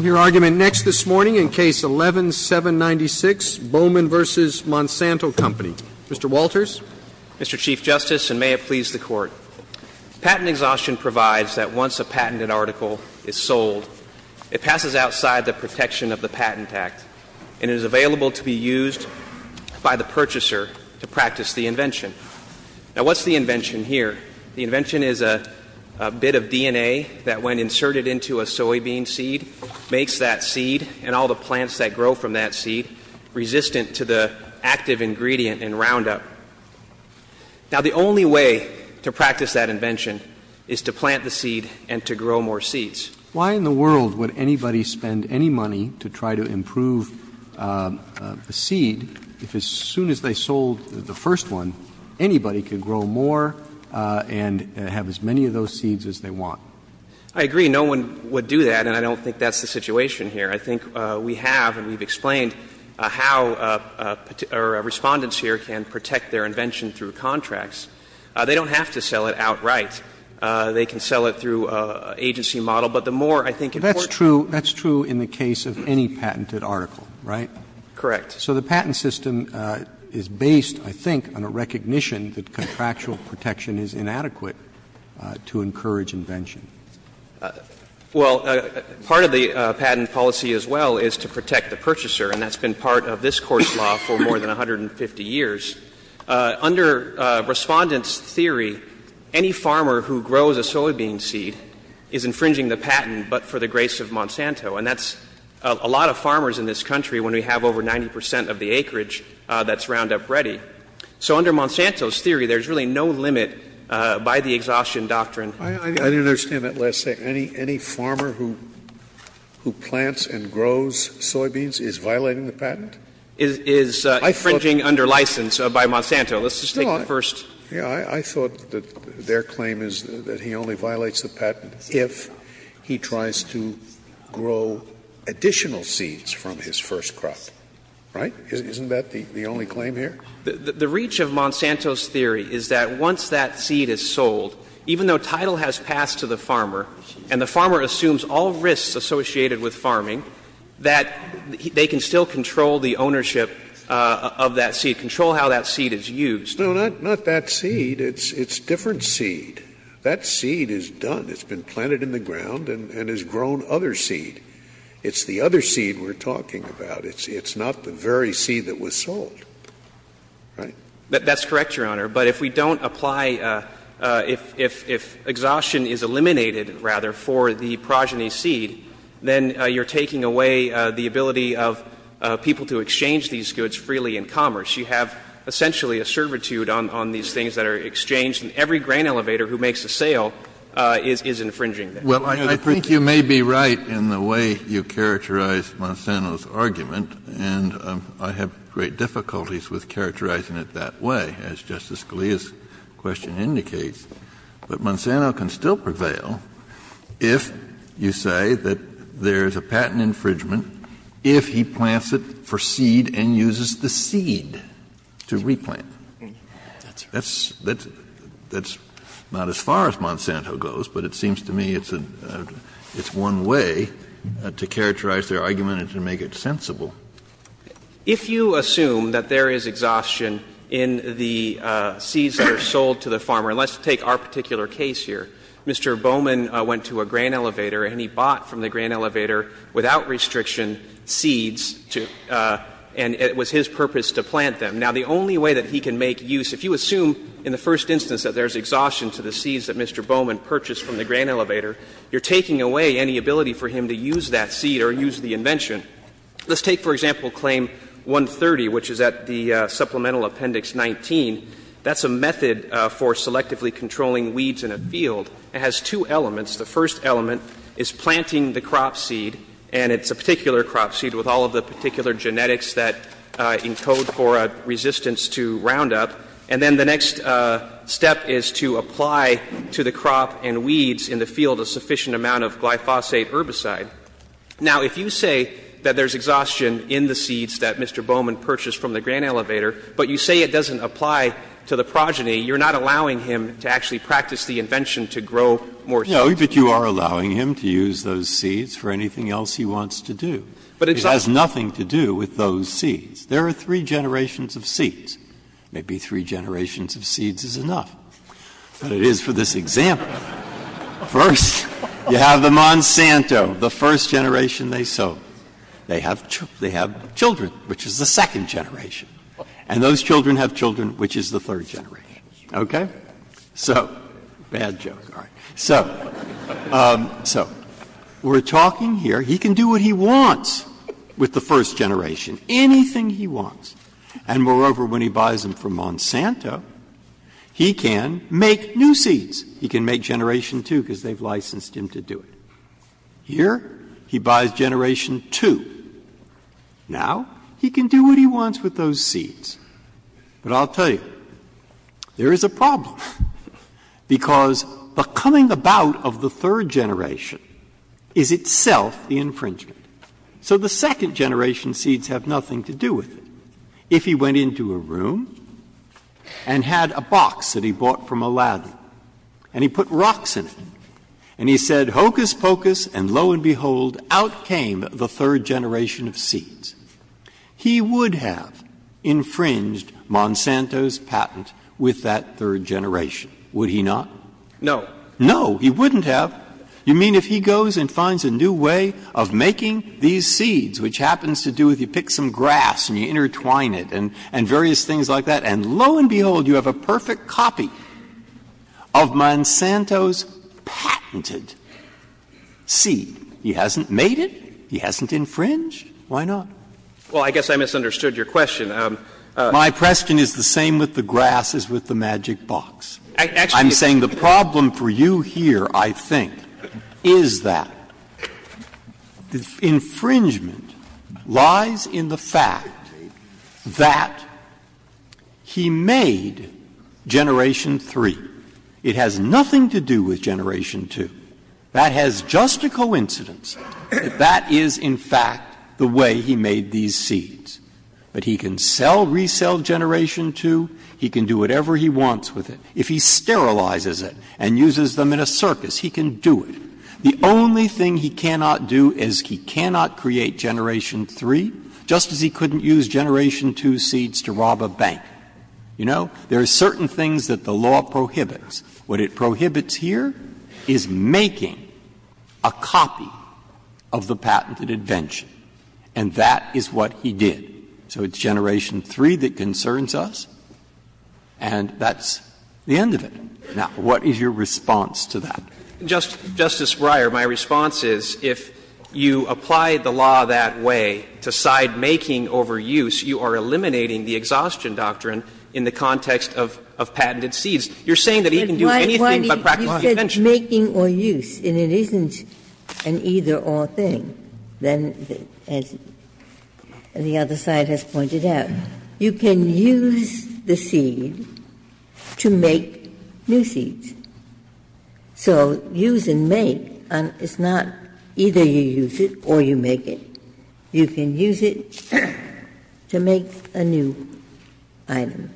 Your argument next this morning in Case 11-796, Bowman v. Monsanto Co. Mr. Walters? Mr. Chief Justice, and may it please the Court, patent exhaustion provides that once a patented article is sold, it passes outside the protection of the Patent Act and is available to be used by the purchaser to practice the invention. Now, what's the invention here? The invention is a bit of DNA that, when inserted into a soybean seed, makes that seed and all the plants that grow from that seed resistant to the active ingredient in Roundup. Now, the only way to practice that invention is to plant the seed and to grow more seeds. Why in the world would anybody spend any money to try to improve a seed if as soon as they sold the first one, anybody could grow more and have as many of those seeds as they want? I agree. No one would do that, and I don't think that's the situation here. I think we have, and we've explained, how Respondents here can protect their invention through contracts. They don't have to sell it outright. They can sell it through an agency model. But the more, I think, important— That's true in the case of any patented article, right? Correct. So the patent system is based, I think, on a recognition that contractual protection is inadequate to encourage invention. Well, part of the patent policy as well is to protect the purchaser, and that's been part of this court's law for more than 150 years. Under Respondents' theory, any farmer who grows a soybean seed is infringing the patent but for the grace of Monsanto. And that's a lot of farmers in this country when we have over 90 percent of the acreage that's Roundup Ready. So under Monsanto's theory, there's really no limit by the exhaustion doctrine. I didn't understand that last statement. Any farmer who plants and grows soybeans is violating the patent? Is infringing under license by Monsanto. Let's just take that first. I thought that their claim is that he only violates the patent if he tries to grow additional seeds from his first crop, right? Isn't that the only claim here? The reach of Monsanto's theory is that once that seed is sold, even though title has passed to the farmer and the farmer assumes all risks associated with farming, that they can still control the ownership of that seed, control how that seed is used. No, not that seed. It's a different seed. That seed is done. It's been planted in the ground and has grown other seed. It's the other seed we're talking about. It's not the very seed that was sold. That's correct, Your Honor. But if we don't apply, if exhaustion is eliminated, rather, for the progeny seed, then you're taking away the ability of people to exchange these goods freely in commerce. You have essentially a servitude on these things that are exchanged and every grain elevator who makes a sale is infringing. Well, I think you may be right in the way you characterize Monsanto's argument, and I have great difficulties with characterizing it that way, as Justice Scalia's question indicates. But Monsanto can still prevail if you say that there is a patent infringement if he plants it for seed and uses the seed to replant. That's not as far as Monsanto goes, but it seems to me it's one way to characterize their argument and to make it sensible. If you assume that there is exhaustion in the seeds that are sold to the farmer, and let's take our particular case here. Mr. Bowman went to a grain elevator, and he bought from the grain elevator, without restriction, seeds, and it was his purpose to plant them. Now, the only way that he can make use, if you assume in the first instance that there is exhaustion to the seeds that Mr. Bowman purchased from the grain elevator, you're taking away any ability for him to use that seed or use the invention. Let's take, for example, Claim 130, which is at the Supplemental Appendix 19. That's a method for selectively controlling weeds in a field. It has two elements. The first element is planting the crop seed, and it's a particular crop seed with all of the particular genetics that encode for a resistance to roundup. And then the next step is to apply to the crop and weeds in the field a sufficient amount of glyphosate herbicide. Now, if you say that there's exhaustion in the seeds that Mr. Bowman purchased from the grain elevator, but you say it doesn't apply to the progeny, you're not allowing him to actually practice the invention to grow more seeds. No, but you are allowing him to use those seeds for anything else he wants to do. It has nothing to do with those seeds. There are three generations of seeds. Maybe three generations of seeds is enough. But it is for this example. First, you have the Monsanto, the first generation they sold. They have children, which is the second generation. And those children have children, which is the third generation. Okay? So, bad joke. So, we're talking here, he can do what he wants with the first generation. Anything he wants. And moreover, when he buys them from Monsanto, he can make new seeds. He can make generation two because they've licensed him to do it. Here, he buys generation two. Now, he can do what he wants with those seeds. But I'll tell you, there is a problem. Because the coming about of the third generation is itself the infringement. So, the second generation seeds have nothing to do with it. If he went into a room and had a box that he bought from Aladdin, and he put rocks in it, and he said, hocus pocus, and lo and behold, out came the third generation of seeds. He would have infringed Monsanto's patent with that third generation. Would he not? No. No, he wouldn't have. You mean if he goes and finds a new way of making these seeds, which happens to do with you pick some grass and you intertwine it and various things like that, and lo and behold, you have a perfect copy of Monsanto's patented seed. He hasn't made it. He hasn't infringed. Why not? Well, I guess I misunderstood your question. My question is the same with the grass as with the magic box. I'm saying the problem for you here, I think, is that the infringement lies in the fact that he made generation three. It has nothing to do with generation two. That has just a coincidence. That is, in fact, the way he made these seeds. But he can sell, resell generation two. He can do whatever he wants with it. If he sterilizes it and uses them in a circus, he can do it. The only thing he cannot do is he cannot create generation three, just as he couldn't use generation two seeds to rob a bank. You know, there are certain things that the law prohibits. What it prohibits here is making a copy of the patented invention, and that is what he did. So it's generation three that concerns us, and that's the end of it. Now, what is your response to that? Justice Breyer, my response is if you apply the law that way to side making over use, you are eliminating the exhaustion doctrine in the context of patented seeds. You're saying that he can do anything but crack a lot of inventions. He says making or use, and it isn't an either-or thing. Then, as the other side has pointed out, you can use the seed to make new seeds. So use and make, it's not either you use it or you make it. You can use it to make a new item.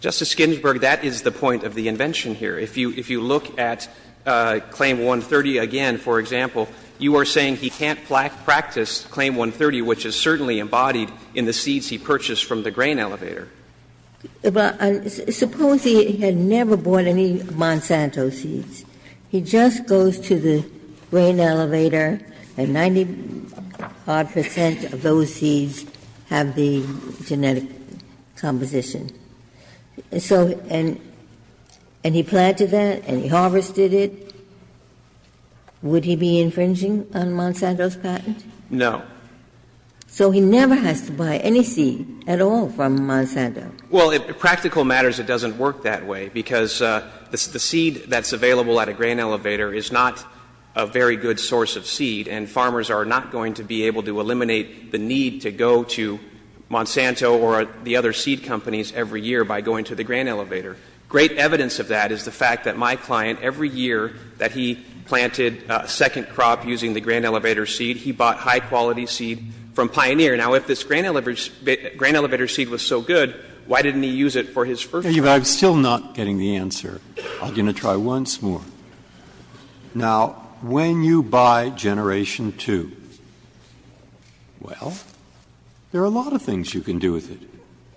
Justice Ginsburg, that is the point of the invention here. If you look at Claim 130 again, for example, you are saying he can't practice Claim 130, which is certainly embodied in the seeds he purchased from the grain elevator. Suppose he had never bought any Monsanto seeds. He just goes to the grain elevator, and 90-odd percent of those seeds have the genetic composition. And he planted that, and he harvested it. Would he be infringing on Monsanto's patents? No. So he never has to buy any seed at all from Monsanto. Well, in practical matters, it doesn't work that way, because the seed that's available at a grain elevator is not a very good source of seed, and farmers are not going to be able to eliminate the need to go to Monsanto or the other seed companies every year by going to the grain elevator. Great evidence of that is the fact that my client, every year that he planted a second crop using the grain elevator seed, he bought high-quality seed from Pioneer. Now, if this grain elevator seed was so good, why didn't he use it for his first crop? I'm still not getting the answer. I'm going to try once more. Now, when you buy Generation 2, well, there are a lot of things you can do with it.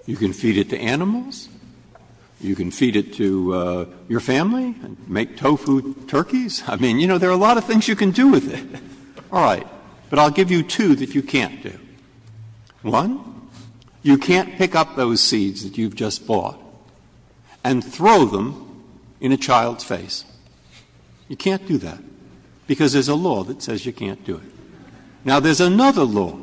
You can feed it to animals. You can feed it to your family and make tofu turkeys. I mean, you know, there are a lot of things you can do with it. All right, but I'll give you two that you can't do. One, you can't pick up those seeds that you've just bought and throw them in a child's face. You can't do that, because there's a law that says you can't do it. Now, there's another law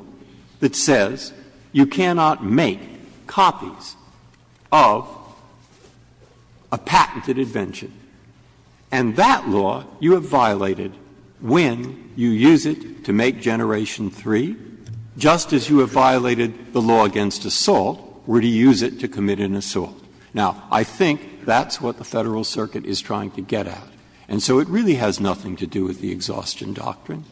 that says you cannot make copies of a patented invention, and that law you have violated when you use it to make Generation 3, just as you have violated the law against assault where you use it to commit an assault. Now, I think that's what the Federal Circuit is trying to get at, and so it really has nothing to do with the exhaustion doctrine.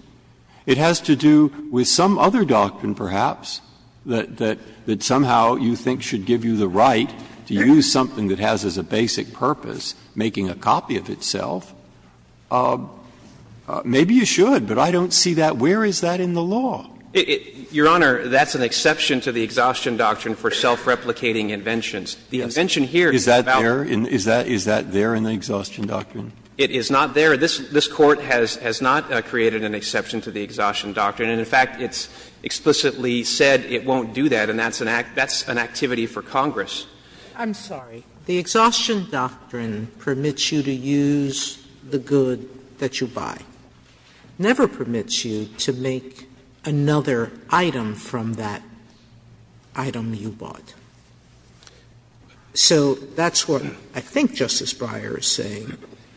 It has to do with some other doctrine, perhaps, that somehow you think should give you the right to use something that has as a basic purpose making a copy of itself. Maybe you should, but I don't see that. Where is that in the law? Your Honor, that's an exception to the exhaustion doctrine for self-replicating inventions. Is that there in the exhaustion doctrine? It is not there. This Court has not created an exception to the exhaustion doctrine, and, in fact, it's explicitly said it won't do that, and that's an activity for Congress. I'm sorry. The exhaustion doctrine permits you to use the good that you buy. It never permits you to make another item from that item you bought. So that's what I think Justice Breyer is saying,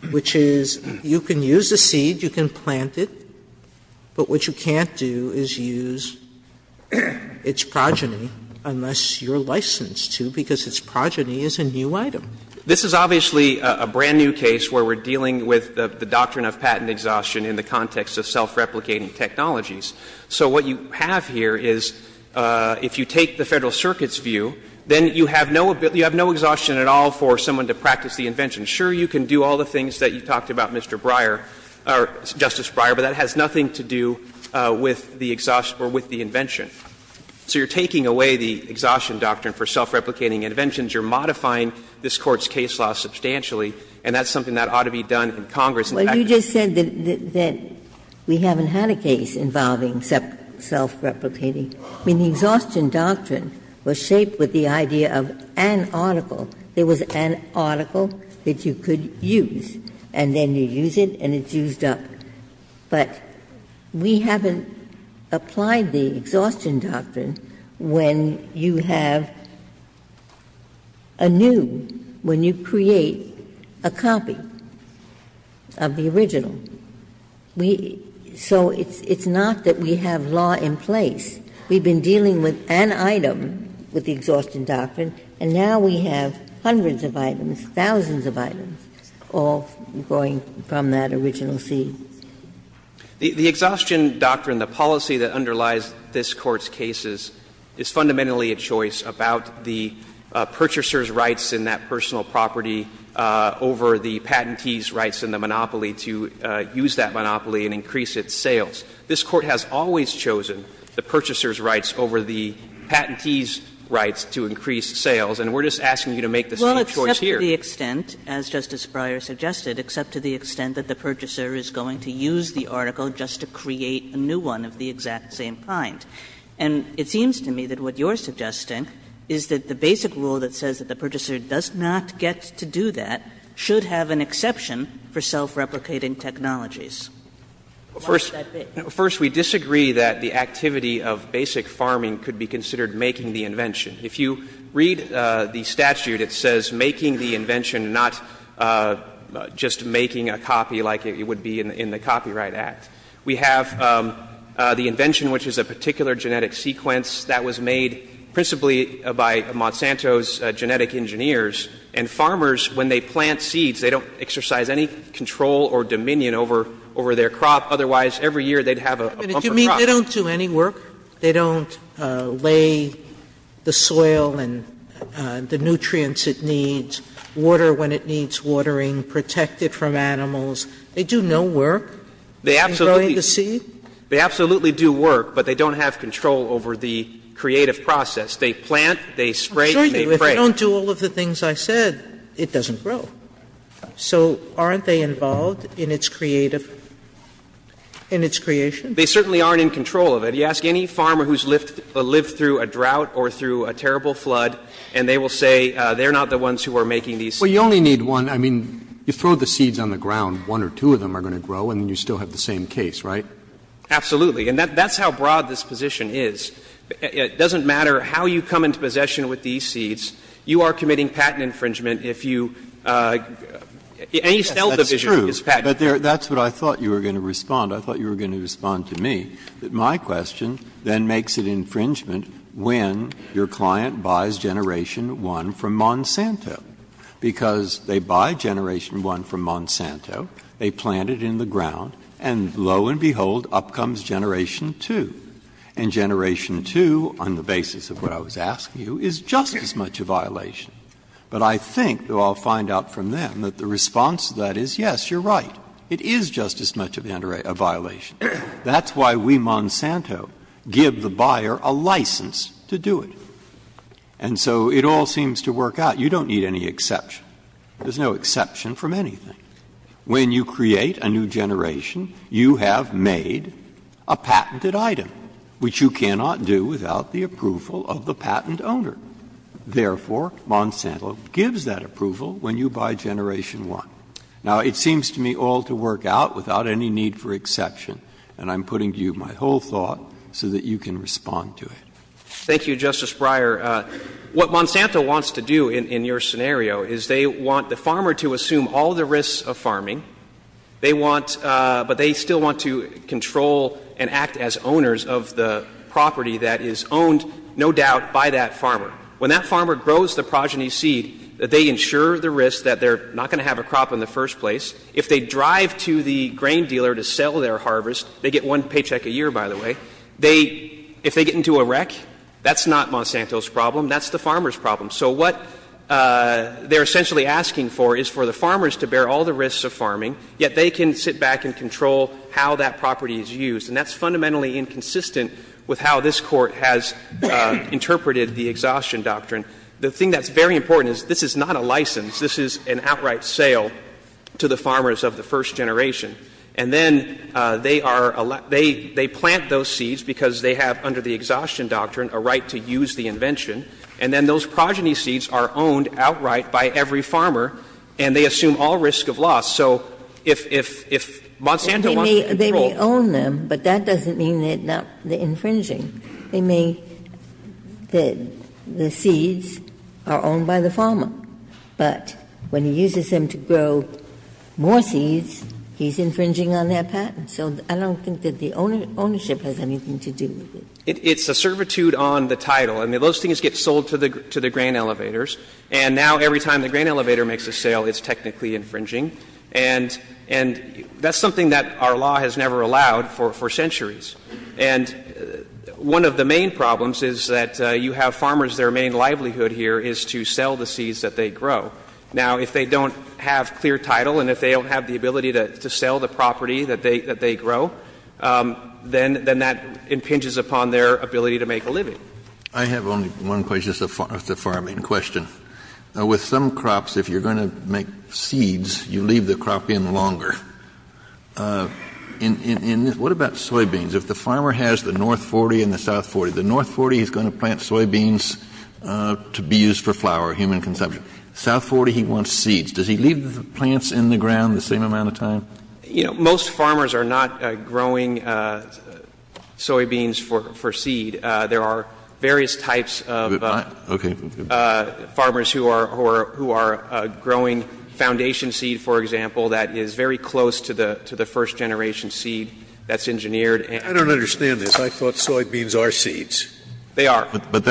which is you can use the seed, you can plant it, but what you can't do is use its progeny unless you're licensed to because its progeny is a new item. This is obviously a brand-new case where we're dealing with the doctrine of patent exhaustion in the context of self-replicating technologies. So what you have here is if you take the Federal Circuit's view, then you have no exhaustion at all for someone to practice the invention. Sure, you can do all the things that you talked about, Justice Breyer, but that has nothing to do with the invention. So you're taking away the exhaustion doctrine for self-replicating inventions. You're modifying this Court's case law substantially, and that's something that ought to be done in Congress. Well, you just said that we haven't had a case involving self-replicating. I mean, the exhaustion doctrine was shaped with the idea of an article. There was an article that you could use, and then you use it, and it's used up. But we haven't applied the exhaustion doctrine when you have a new, when you create a copy of the original. So it's not that we have law in place. We've been dealing with an item with the exhaustion doctrine, and now we have hundreds of items, thousands of items, all going from that original scene. The exhaustion doctrine, the policy that underlies this Court's cases, is fundamentally a choice about the purchaser's rights in that personal property over the patentee's rights in the monopoly to use that monopoly and increase its sales. This Court has always chosen the purchaser's rights over the patentee's rights to increase sales, and we're just asking you to make the same choice here. Except to the extent, as Justice Breyer suggested, except to the extent that the purchaser is going to use the article just to create a new one of the exact same kind. And it seems to me that what you're suggesting is that the basic rule that says that the purchaser does not get to do that should have an exception for self-replicating technologies. First, we disagree that the activity of basic farming could be considered making the invention. If you read the statute, it says making the invention, not just making a copy like it would be in the Copyright Act. We have the invention, which is a particular genetic sequence that was made principally by Monsanto's genetic engineers, and farmers, when they plant seeds, they don't exercise any control or dominion over their crop, otherwise every year they'd have a bumper crop. Do you mean they don't do any work? They don't lay the soil and the nutrients it needs, water when it needs watering, protect it from animals? They do no work? They absolutely do work, but they don't have control over the creative process. They plant, they spray, and they pray. If they don't do all of the things I said, it doesn't grow. So aren't they involved in its creation? In its creation? They certainly aren't in control of it. You ask any farmer who's lived through a drought or through a terrible flood, and they will say they're not the ones who are making these seeds. Well, you only need one. I mean, you throw the seeds on the ground, one or two of them are going to grow, and you still have the same case, right? Absolutely, and that's how broad this position is. It doesn't matter how you come into possession with these seeds. You are committing patent infringement if you... That's true, but that's what I thought you were going to respond. I thought you were going to respond to me, that my question then makes it infringement when your client buys Generation 1 from Monsanto because they buy Generation 1 from Monsanto, they plant it in the ground, and lo and behold, up comes Generation 2. And Generation 2, on the basis of what I was asking you, is just as much a violation. But I think that I'll find out from them that the response to that is, yes, you're right. It is just as much a violation. That's why we, Monsanto, give the buyer a license to do it. And so it all seems to work out. You don't need any exception. There's no exception from anything. When you create a new generation, you have made a patented item, which you cannot do without the approval of the patent owner. Therefore, Monsanto gives that approval when you buy Generation 1. Now, it seems to me all to work out without any need for exception. And I'm putting to you my whole thought so that you can respond to it. Thank you, Justice Breyer. What Monsanto wants to do in your scenario is they want the farmer to assume all the risks of farming, but they still want to control and act as owners of the property that is owned, no doubt, by that farmer. When that farmer grows the progeny seed, they ensure the risk that they're not going to have a crop in the first place. If they drive to the grain dealer to sell their harvest, they get one paycheck a year, by the way, if they get into a wreck, that's not Monsanto's problem. That's the farmer's problem. So what they're essentially asking for is for the farmers to bear all the risks of farming, yet they can sit back and control how that property is used. And that's fundamentally inconsistent with how this Court has interpreted the Exhaustion Doctrine. The thing that's very important is this is not a license. This is an outright sale to the farmers of the first generation. And then they plant those seeds because they have, under the Exhaustion Doctrine, a right to use the invention. And then those progeny seeds are owned outright by every farmer, and they assume all risk of loss. They may own them, but that doesn't mean that they're infringing. They may... The seeds are owned by the farmer, but when he uses them to grow more seeds, he's infringing on their patent. So I don't think that the ownership has anything to do with it. It's a servitude on the title. I mean, those things get sold to the grain elevators, and now every time the grain elevator makes a sale, it's technically infringing. And that's something that our law has never allowed for centuries. And one of the main problems is that you have farmers, their main livelihood here is to sell the seeds that they grow. Now, if they don't have clear title and if they don't have the ability to sell the property that they grow, then that impinges upon their ability to make a living. I have one question, just a farming question. With some crops, if you're going to make seeds, you leave the crop in longer. What about soybeans? If the farmer has the North 40 and the South 40, the North 40 he's going to plant soybeans to be used for flour, human consumption. South 40, he wants seeds. Does he leave the plants in the ground the same amount of time? Most farmers are not growing soybeans for seed. There are various types of farmers who are growing foundation seed, for example, that is very close to the first-generation seed that's engineered. I don't understand this. I thought soybeans are seeds. They are. But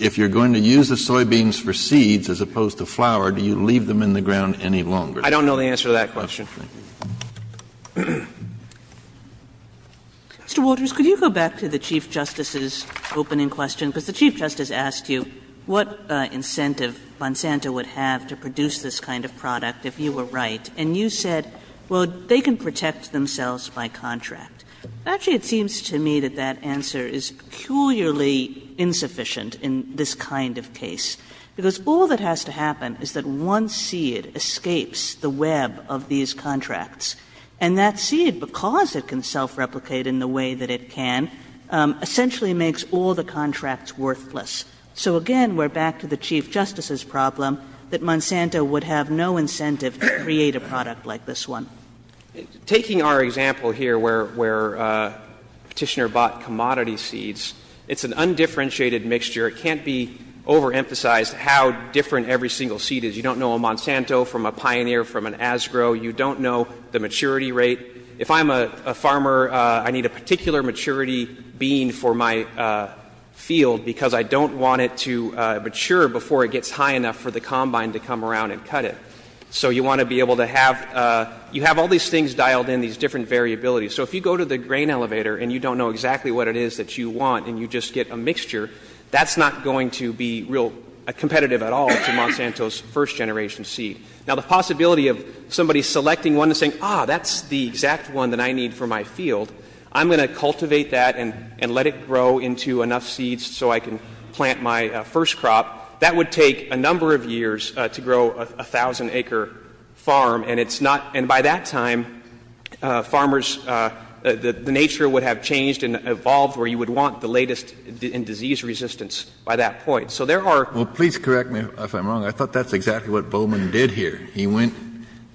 if you're going to use the soybeans for seeds as opposed to flour, do you leave them in the ground any longer? I don't know the answer to that question. Mr. Walters, could you go back to the Chief Justice's opening question? Because the Chief Justice asked you what incentive Bonsanto would have to produce this kind of product if you were right. And you said, well, they can protect themselves by contract. Actually, it seems to me that that answer is peculiarly insufficient in this kind of case. Because all that has to happen is that one seed escapes the web of these contracts. And that seed, because it can self-replicate in the way that it can, essentially makes all the contracts worthless. So, again, we're back to the Chief Justice's problem that Bonsanto would have no incentive to create a product like this one. Taking our example here where Petitioner bought commodity seeds, it's an undifferentiated mixture. It can't be overemphasized how different every single seed is. You don't know a Bonsanto from a Pioneer from an Asgrow. You don't know the maturity rate. If I'm a farmer, I need a particular maturity bean for my field because I don't want it to mature before it gets high enough for the combine to come around and cut it. So you want to be able to have, you have all these things dialed in, these different variabilities. So if you go to the grain elevator and you don't know exactly what it is that you want and you just get a mixture, that's not going to be real competitive at all to Bonsanto's first generation seed. Now the possibility of somebody selecting one and saying, ah, that's the exact one that I need for my field, I'm going to cultivate that and let it grow into enough seeds so I can plant my first crop, that would take a number of years to grow a thousand acre farm. And it's not, and by that time, farmers, the nature would have changed and evolved where you would want the latest in disease resistance by that point. So there are. Please correct me if I'm wrong. I thought that's exactly what Bowman did here. He went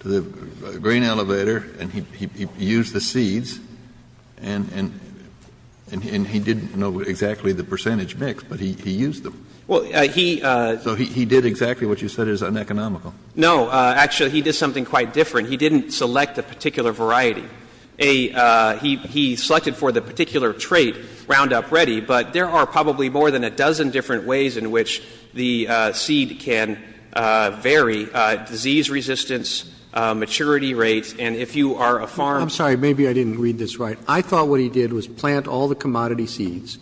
to the grain elevator and he used the seeds and he didn't know exactly the percentage mix, but he used them. So he did exactly what you said is uneconomical. No, actually he did something quite different. He didn't select a particular variety. He selected for the particular trait Roundup Ready, but there are probably more than a dozen different ways in which the seed can vary disease resistance, maturity rates. And if you are a farm. I'm sorry, maybe I didn't read this right. I thought what he did was plant all the commodity seeds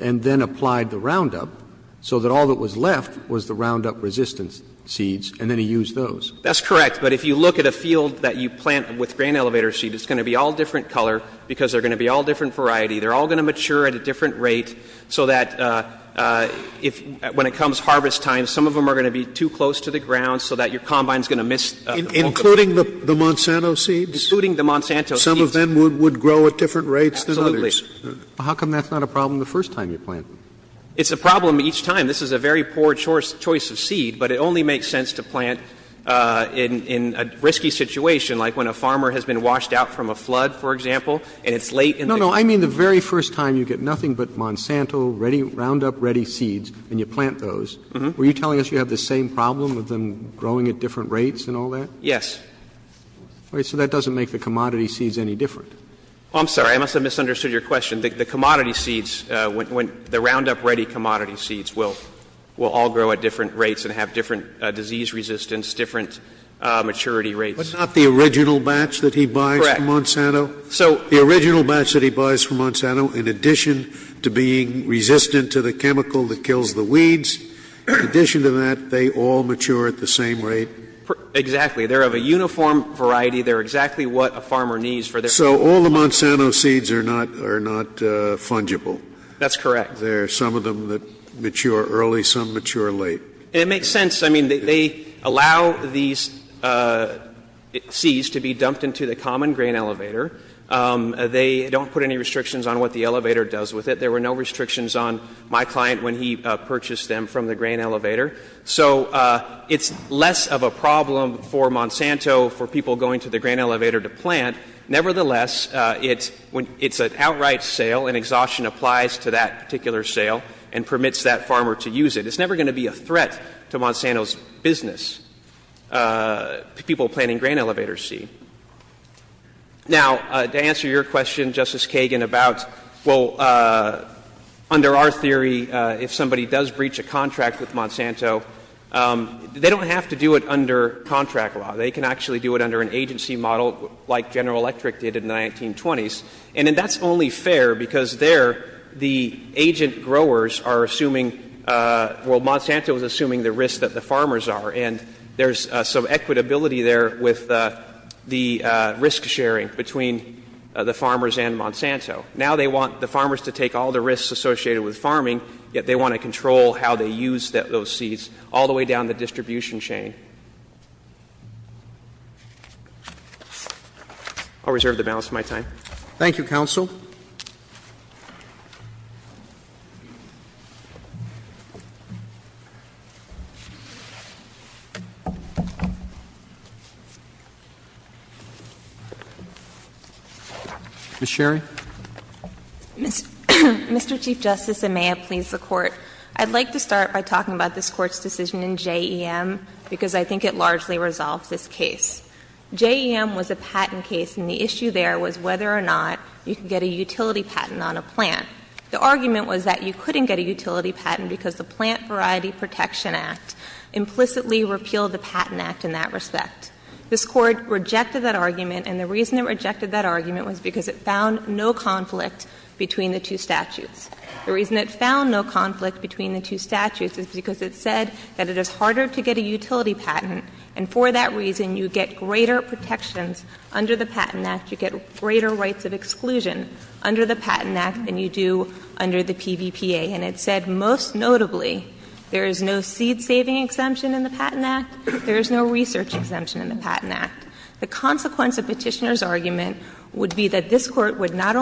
and then applied the Roundup so that all that was left was the Roundup resistance seeds. And then he used those. That's correct. But if you look at a field that you plant with grain elevator seed, it's going to be all different color because they're going to be all different variety. They're all going to mature at a different rate so that when it comes to harvest time, some of them are going to be too close to the ground so that your combine is going to miss. Including the Monsanto seeds? Including the Monsanto seeds. Some of them would grow at different rates than others. Absolutely. How come that's not a problem the first time you plant? It's a problem each time. This is a very poor choice of seed, but it only makes sense to plant in a risky situation like when a farmer has been washed out from a flood, for example, and it's late in the season. No, no. I mean the very first time you get nothing but Monsanto Roundup Ready seeds and you plant those. Were you telling us you have the same problem with them growing at different rates and all that? Yes. All right. So that doesn't make the commodity seeds any different. I'm sorry. I must have misunderstood your question. The Roundup Ready commodity seeds will all grow at different rates and have That's not the original batch that he buys from Monsanto. Correct. The original batch that he buys from Monsanto in addition to being resistant to the chemical that kills the weeds, in addition to that, they all mature at the same rate. Exactly. They're of a uniform variety. They're exactly what a farmer needs for their So all the Monsanto seeds are not fungible. That's correct. There are some of them that mature early, some mature late. It makes sense. I mean, they allow these seeds to be dumped into the common grain elevator. They don't put any restrictions on what the elevator does with it. There were no restrictions on my client when he purchased them from the grain elevator. So it's less of a problem for Monsanto for people going to the grain elevator to plant. Nevertheless, it's an outright sale and exhaustion applies to that particular sale and permits that farmer to use it. It's never going to be a threat to Monsanto's business to people planting grain elevator seed. Now, to answer your question, Justice Kagan, about, well, under our theory, if somebody does breach a contract with Monsanto, they don't have to do it under contract law. They can actually do it under an agency model like General Electric did in the 1920s. And that's only fair because there, the agent growers are assuming, well, Monsanto is assuming the risk that the farmers are. And there's some equitability there with the risk sharing between the farmers and Monsanto. Now they want the farmers to take all the risks associated with farming, yet they want to control how they use those seeds all the way down the distribution chain. I'll reserve the balance of my time. Thank you, Counsel. Ms. Sherry? Mr. Chief Justice, and may I please report. I'd like to start by talking about this Court's decision in J.E.M. because I think it largely resolves this case. J.E.M. was a patent case, and the issue there was whether or not you can get a utility patent on a plant. The argument was that you couldn't get a utility patent because the Plant Variety Protection Act implicitly repealed the Patent Act in that respect. This Court rejected that argument, and the reason it rejected that argument was because it found no conflict between the two statutes. The reason it found no conflict between the two statutes is because it said that it is harder to get a utility patent, and for that reason you get greater protections under the Patent Act. You get greater rights of exclusion under the Patent Act than you do under the PVPA. And it said, most notably, there is no seed-saving exemption in the Patent Act. There is no research exemption in the Patent Act. The consequence of Petitioner's argument would be that this Court would not be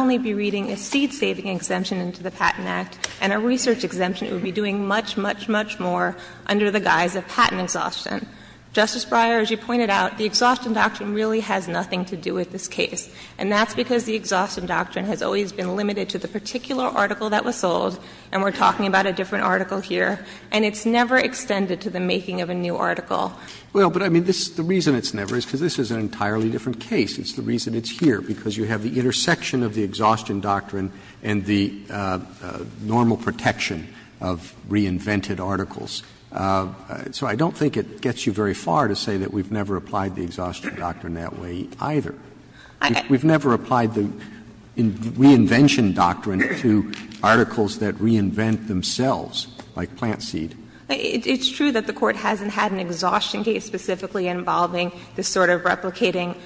doing much, much, much more under the guise of patent exhaustion. Justice Breyer, as you pointed out, the exhaustion doctrine really has nothing to do with this case, and that's because the exhaustion doctrine has always been limited to the particular article that was sold, and we're talking about a different article here, and it's never extended to the making of a new article. Well, but I mean, the reason it's never is because this is an entirely different case. It's the reason it's here, because you have the intersection of the exhaustion doctrine and the normal protection of reinvented articles. So I don't think it gets you very far to say that we've never applied the exhaustion doctrine that way either. We've never applied the reinvention doctrine to articles that reinvent themselves, like plant seed. It's true that the Court hasn't had an exhaustion case specifically involving this sort of replicating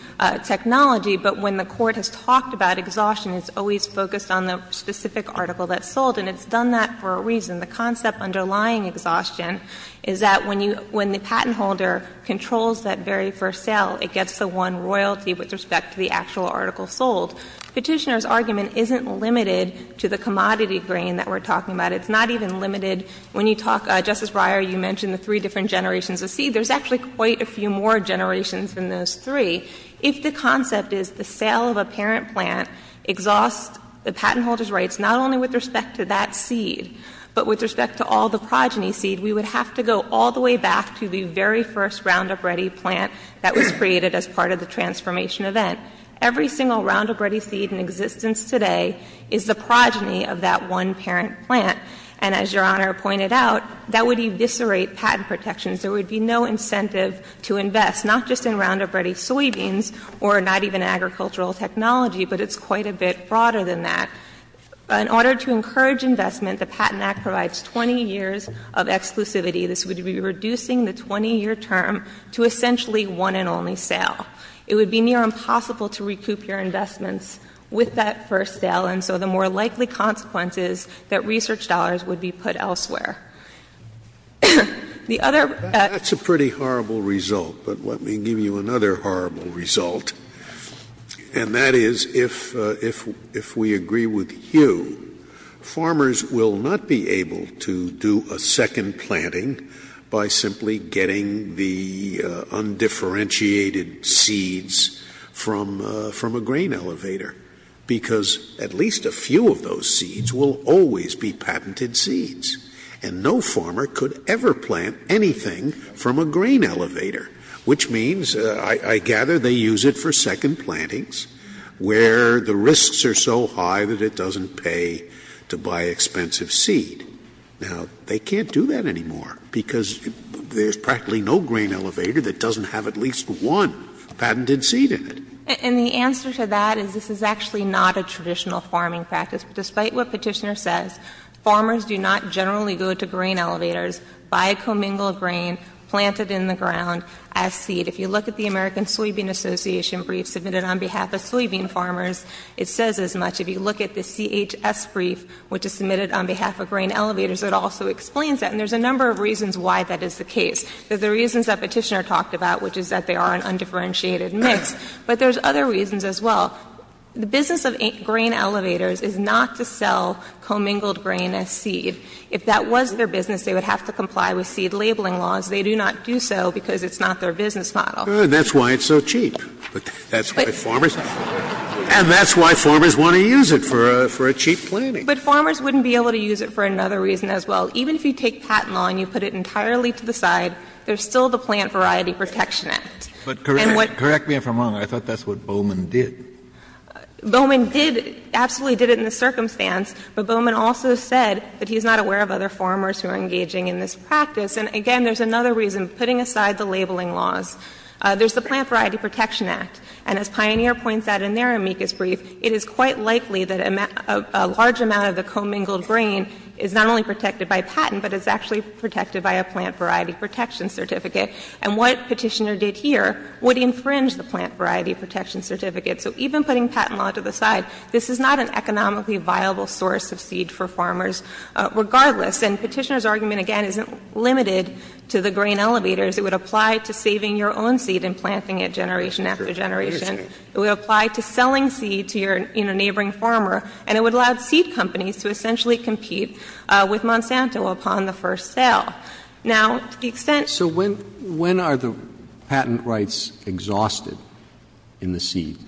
technology, but when the Court has talked about exhaustion, it's always focused on the specific article that's sold, and it's done that for a reason. The concept underlying exhaustion is that when the patent holder controls that very first sale, it gets the one royalty with respect to the actual article sold. Petitioner's argument isn't limited to the commodity green that we're talking about. It's not even limited when you talk, Justice Breyer, you mentioned the three different generations of seed. There's actually quite a few more generations than those three. If the concept is the sale of a parent plant exhausts the patent holder's authority, not only with respect to that seed, but with respect to all the progeny seed, we would have to go all the way back to the very first Roundup Ready plant that was created as part of the transformation event. Every single Roundup Ready seed in existence today is the progeny of that one parent plant, and as Your Honor pointed out, that would eviscerate patent protections. There would be no incentive to invest, not just in Roundup Ready soybeans or not even agricultural technology, but it's quite a bit broader than that. In order to encourage investment, the Patent Act provides 20 years of exclusivity. This would be reducing the 20-year term to essentially one and only sale. It would be near impossible to recoup your investments with that first sale, and so the more likely consequence is that research dollars would be put elsewhere. That's a pretty horrible result, but let me give you another horrible result, and that is if we agree with Hugh, farmers will not be able to do a second planting by simply getting the undifferentiated seeds from a grain elevator, because at least a few of those seeds will always be patented seeds, and no farmer could ever plant anything from a grain elevator, which means I gather they use it for second plantings where the risks are so high that it doesn't pay to buy expensive seed. Now, they can't do that anymore, because there's practically no grain elevator that doesn't have at least one patented seed in it. And the answer to that is this is actually not a traditional farming practice. Despite what Petitioner said, farmers do not generally go to grain elevators, buy commingled grain, plant it in the ground as seed. If you look at the American Soybean Association brief submitted on behalf of soybean farmers, it says as much. If you look at the CHS brief, which is submitted on behalf of grain elevators, it also explains that, and there's a number of reasons why that is the case. There's the reasons that Petitioner talked about, which is that they are an undifferentiated mix, but there's other reasons as well. The business of grain elevators is not to sell commingled grain as seed. If that was their business, they would have to comply with seed labeling laws. They do not do so because it's not their business model. That's why it's so cheap. That's why farmers want to use it for cheap planting. But farmers wouldn't be able to use it for another reason as well. Even if you take patent law and you put it entirely to the side, there's still the plant variety protectionist. But correct me if I'm wrong. I thought that's what Bowman did. Bowman absolutely did it in the circumstance, but Bowman also said that he's not aware of other farmers who are engaging in this practice. And, again, there's another reason. Putting aside the labeling laws, there's the Plant Variety Protection Act. And as Pioneer points out in their amicus brief, it is quite likely that a large amount of the commingled grain is not only protected by patent, but is actually protected by a plant variety protection certificate. And what Petitioner did here would infringe the plant variety protection certificate. So even putting patent law to the side, this is not an economically viable source of seed for farmers regardless. And Petitioner's argument, again, isn't limited to the grain elevators. It would apply to saving your own seed and planting it generation after generation. It would apply to selling seed to your neighboring farmer. And it would allow seed companies to essentially compete with Monsanto upon the first sale. So when are the patent rights exhausted in the seed?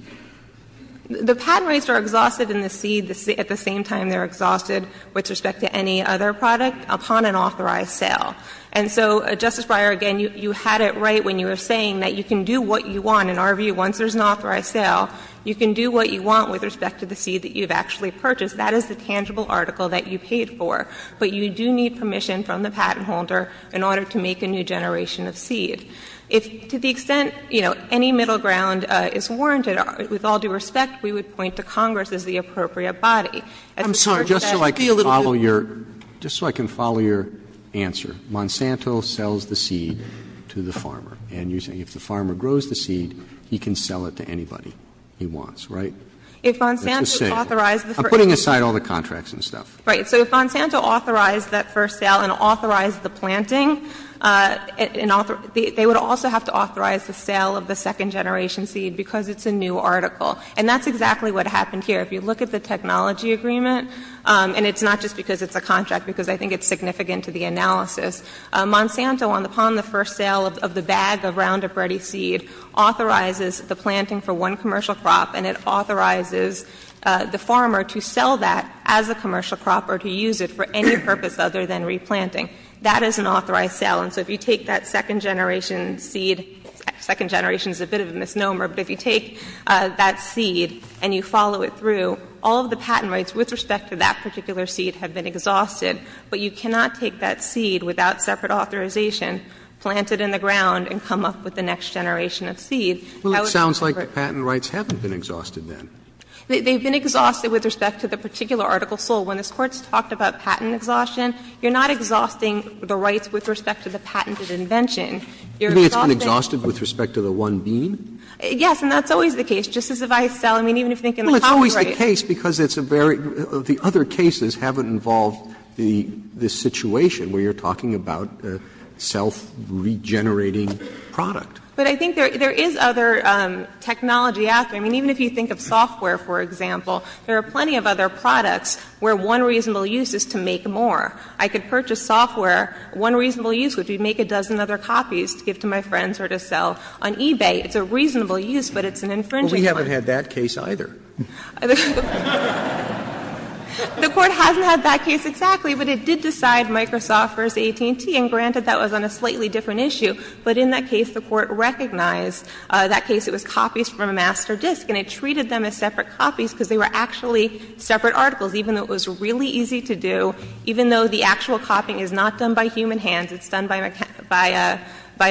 The patent rights are exhausted in the seed at the same time they're exhausted with respect to any other product upon an authorized sale. And so, Justice Breyer, again, you had it right when you were saying that you can do what you want. In our view, once there's an authorized sale, you can do what you want with respect to the seed that you've actually purchased. That is the tangible article that you paid for. But you do need permission from the patent holder in order to make a new generation of seed. To the extent, you know, any middle ground is warranted with all due respect, we would point to Congress as the appropriate body. I'm sorry, just so I can follow your answer. Monsanto sells the seed to the farmer. And if the farmer grows the seed, he can sell it to anybody he wants, right? If Monsanto authorizes... I'm putting aside all the contracts and stuff. Right, so if Monsanto authorized that first sale and authorized the planting, they would also have to authorize the sale of the second generation seed because it's a new article. And that's exactly what happened here. If you look at the technology agreement, and it's not just because it's a contract, because I think it's significant to the analysis, Monsanto, upon the first sale of the bag of Roundup Ready seed, authorizes the planting for one commercial crop, and it authorizes the farmer to sell that as a commercial crop or to use it for any purpose other than replanting. That is an authorized sale. And so if you take that second generation seed, second generation is a bit of a misnomer, but if you take that seed and you follow it through, all of the patent rights with respect to that particular seed have been exhausted, but you cannot take that seed without separate authorization, Well, it sounds like the patent rights haven't been exhausted then. They've been exhausted with respect to the particular article full. When the courts talked about patent exhaustion, you're not exhausting the rights with respect to the patented invention. You're exhausting... You mean it's been exhausted with respect to the one bean? Yes, and that's always the case. Just as if I sell, I mean, even if they can authorize... Well, it's always the case because it's a very... The other cases haven't involved this situation where you're talking about self-regenerating product. But I think there is other technology out there. I mean, even if you think of software, for example, there are plenty of other products where one reasonable use is to make more. I could purchase software. One reasonable use would be to make a dozen other copies to give to my friends or to sell on eBay. It's a reasonable use, but it's an infringing one. Well, we haven't had that case either. The court hasn't had that case exactly, but it did decide Microsoft versus AT&T, and granted that was on a slightly different issue, but in that case, the court recognized that case. It was copies from a master disk, and it treated them as separate copies because they were actually separate articles, even though it was really easy to do, even though the actual copying is not done by human hands. It's done by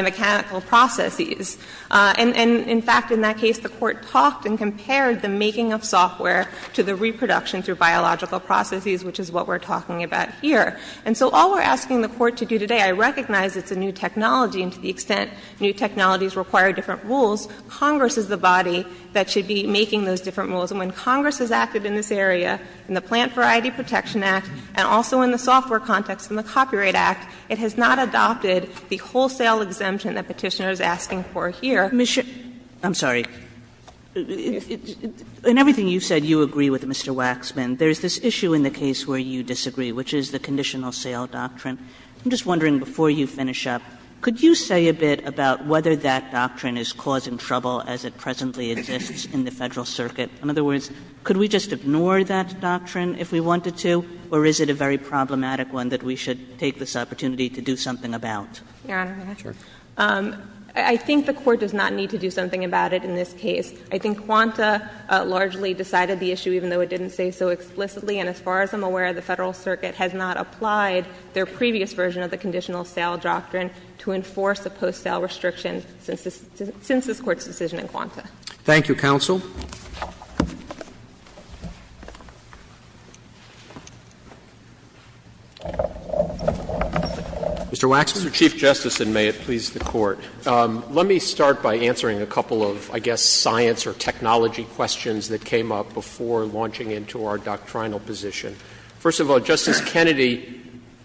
mechanical processes. And in fact, in that case, the court talked and compared the making of software to the reproduction through biological processes, which is what we're talking about here. And so all we're asking the court to do today, I recognize it's a new technology, and to the extent new technologies require different rules, Congress is the body that should be making those different rules. And when Congress has acted in this area, in the Plant Variety Protection Act, and also in the software context in the Copyright Act, it has not adopted the wholesale exemption that Petitioner is asking for here. I'm sorry. In everything you said, you agree with Mr. Waxman. There's this issue in the case where you disagree, which is the conditional sale doctrine. I'm just wondering, before you finish up, could you say a bit about whether that doctrine is causing trouble as it presently exists in the Federal Circuit? In other words, could we just ignore that doctrine if we wanted to, or is it a very problematic one that we should take this opportunity to do something about? Yeah. I think the court does not need to do something about it in this case. I think Kwanzaa largely decided the issue, even though it didn't say so explicitly. And as far as I'm aware, the Federal Circuit has not applied their previous version of the conditional sale doctrine to enforce the post-sale restrictions since this Court's decision in Kwanzaa. Thank you, Counsel. Mr. Waxman? Mr. Chief Justice, and may it please the Court, let me start by answering a couple of, I guess, science or technology questions that came up before launching into our doctrinal position. First of all, Justice Kennedy,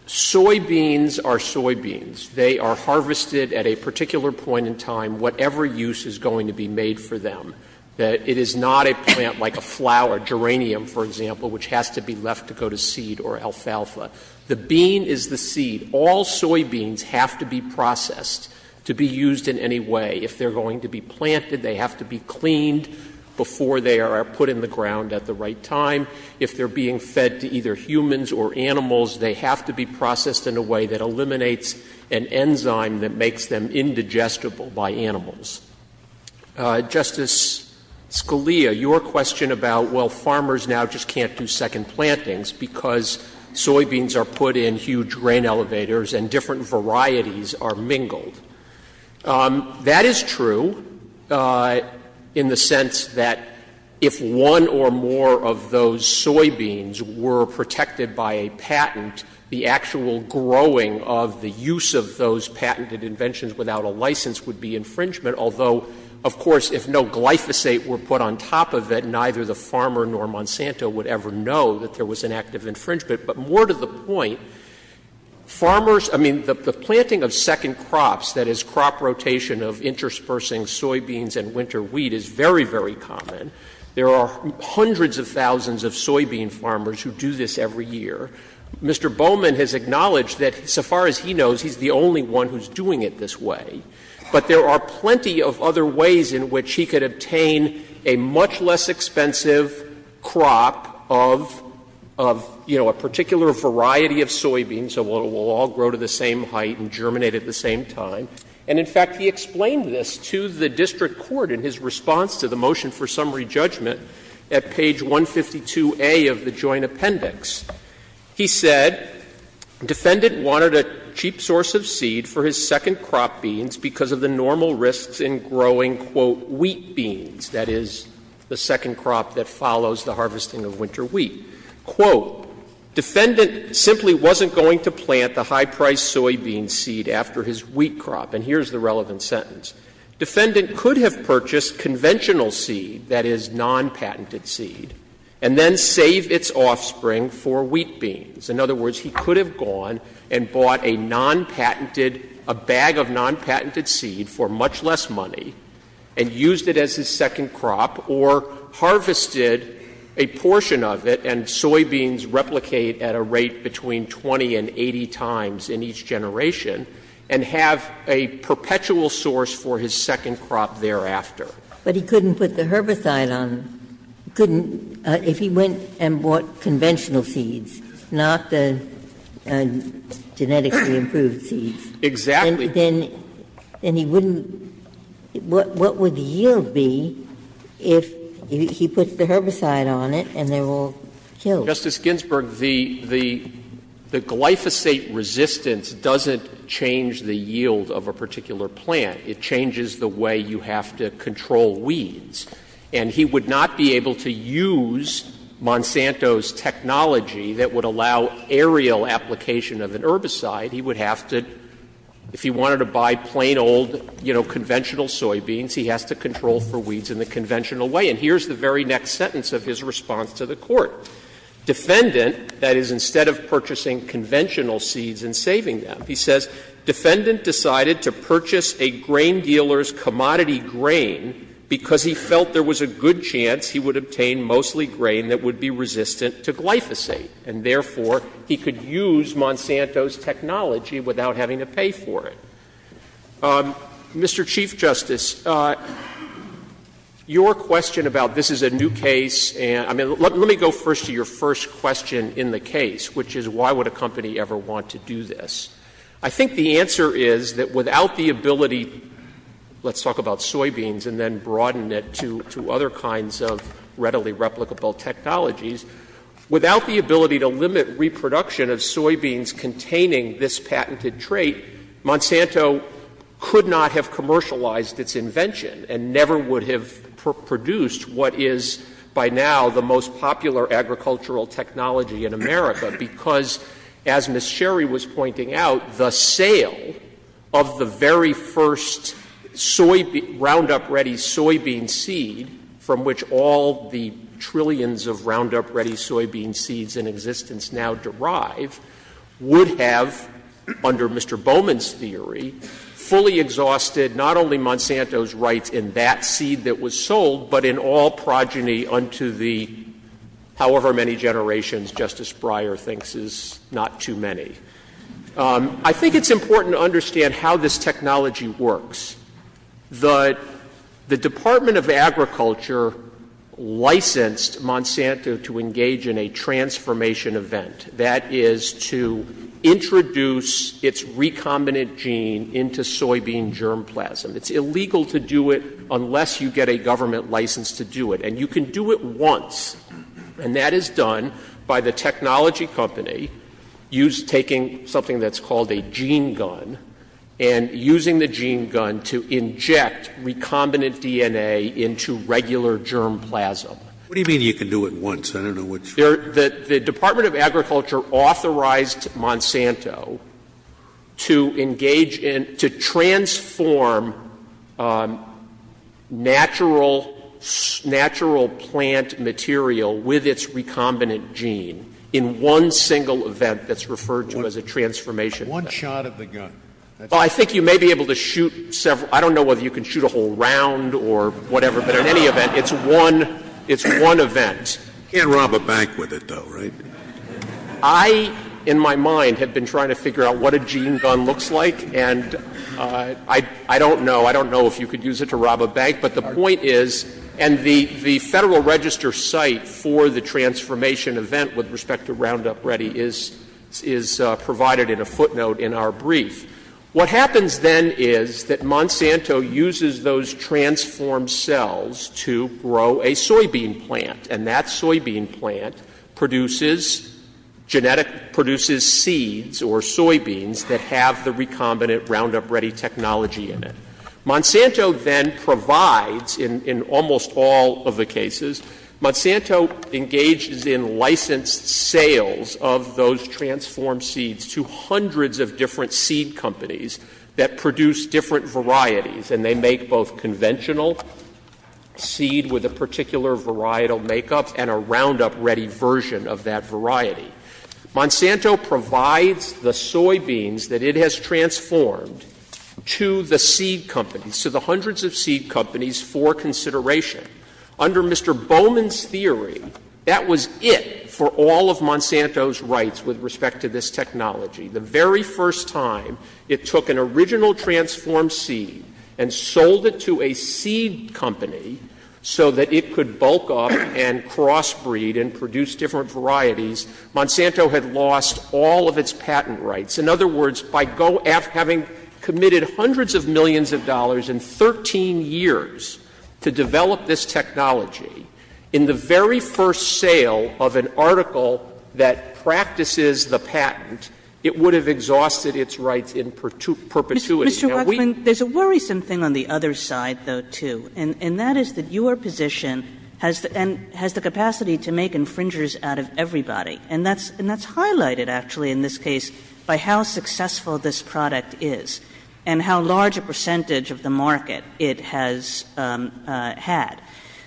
soybeans are soybeans. They are harvested at a particular point in time, whatever use is going to be made for them. It is not a plant like a flower, geranium, for example, which has to be left to go to seed or alfalfa. The bean is the seed. All soybeans have to be processed to be used in any way. If they're going to be planted, they have to be cleaned before they are put in the ground at the right time. If they're being fed to either humans or animals, they have to be processed in a way that eliminates an enzyme that makes them indigestible by animals. Justice Scalia, your question about, well, farmers now just can't do second plantings because soybeans are put in huge grain elevators and different varieties are mingled, that is true in the sense that if one or more of those soybeans were protected by a patent, the actual growing of the use of those patented inventions without a license would be infringement, although, of course, if no glyphosate were put on top of it, neither the farmer nor Monsanto would ever know that there was an act of infringement. But more to the point, farmers, I mean, the planting of second crops, that is, crop rotation of interspersing soybeans and winter wheat is very, very common. There are hundreds of thousands of soybean farmers who do this every year. Mr. Bowman has acknowledged that, so far as he knows, he's the only one who's doing it this way. But there are plenty of other ways in which he could obtain a much less expensive crop of, you know, a particular variety of soybeans, so it will all grow to the same height and germinate at the same time. And, in fact, he explained this to the district court in his response to the motion for summary judgment at page 152A of the joint appendix. He said, defendant wanted a cheap source of seed for his second crop beans because of the normal risks in growing, quote, wheat beans, that is, the second crop that follows the harvesting of winter wheat. Quote, defendant simply wasn't going to plant the high-priced soybean seed after his wheat crop. And here's the relevant sentence. Defendant could have purchased conventional seed, that is, non-patented seed, and then saved its offspring for wheat beans. In other words, he could have gone and bought a non-patented, a bag of non-patented seed for much less money and used it as his second crop or harvested a portion of it and soybeans replicate at a rate between 20 and 80 times in each generation and have a perpetual source for his second crop thereafter. But he couldn't put the herbicide on. He couldn't. If he went and bought conventional seeds, not the genetically improved seeds. Exactly. Then he wouldn't. What would the yield be if he put the herbicide on it and they were killed? Justice Ginsburg, the glyphosate resistance doesn't change the yield of a particular plant. It changes the way you have to control weeds. And he would not be able to use Monsanto's technology that would allow aerial application of an herbicide. He would have to, if he wanted to buy plain, old, you know, conventional soybeans, he has to control for weeds in the conventional way. And here's the very next sentence of his response to the Court. Defendant, that is, instead of purchasing conventional seeds and saving them, he says, defendant decided to purchase a grain dealer's commodity grain because he felt there was a good chance he would obtain mostly grain that would be resistant to glyphosate. And therefore, he could use Monsanto's technology without having to pay for it. Mr. Chief Justice, your question about this is a new case. I mean, let me go first to your first question in the case, which is why would a company ever want to do this? I think the answer is that without the ability, let's talk about soybeans and then broaden it to other kinds of readily replicable technologies, without the ability to limit reproduction of soybeans containing this patented trait, Monsanto could not have commercialized its invention and never would have produced what is, by now, the most popular agricultural technology in America because, as Ms. Sherry was pointing out, the sale of the very first Roundup-ready soybean seed, from which all the trillions of Roundup-ready soybean seeds in existence now derive, would have, under Mr. Bowman's theory, fully exhausted not only Monsanto's rights in that seed that was sold, but in all progeny unto the however many generations Justice Breyer thinks is not too many. I think it's important to understand how this technology works. The Department of Agriculture licensed Monsanto to engage in a transformation event. That is to introduce its recombinant gene into soybean germplasm. It's illegal to do it unless you get a government license to do it. And you can do it once, and that is done by the technology company taking something that's called a gene gun and using the gene gun to inject recombinant DNA into regular germplasm. What do you mean you can do it once? The Department of Agriculture authorized Monsanto to transform natural plant material with its recombinant gene in one single event that's referred to as a transformation event. One shot of the gun. I think you may be able to shoot several. I don't know whether you can shoot a whole round or whatever, but in any event, it's one event. You can't rob a bank with it, though, right? I, in my mind, have been trying to figure out what a gene gun looks like, and I don't know if you could use it to rob a bank, but the point is, and the Federal Register site for the transformation event with respect to Roundup Ready is provided in a footnote in our brief. What happens then is that Monsanto uses those transformed cells to grow a soybean plant, and that soybean plant produces seeds or soybeans that have the recombinant Roundup Ready technology in it. Monsanto then provides, in almost all of the cases, Monsanto engages in licensed sales of those transformed seeds to hundreds of different seed companies that produce different varieties, and they make both conventional seed with a particular varietal makeup and a Roundup Ready version of that variety. Monsanto provides the soybeans that it has transformed to the seed companies, to the hundreds of seed companies for consideration. Under Mr. Bowman's theory, that was it for all of Monsanto's rights with respect to this technology. The very first time it took an original transformed seed and sold it to a seed company so that it could bulk up and crossbreed and produce different varieties, Monsanto had lost all of its patent rights. In other words, by having committed hundreds of millions of dollars in 13 years to develop this technology, in the very first sale of an article that practices the patent, it would have exhausted its rights in perpetuity. Mr. Rutland, there's a worrisome thing on the other side, though, too, and that is that your position has the capacity to make infringers out of everybody. And that's highlighted, actually, in this case, by how successful this product is and how large a percentage of the market it has had.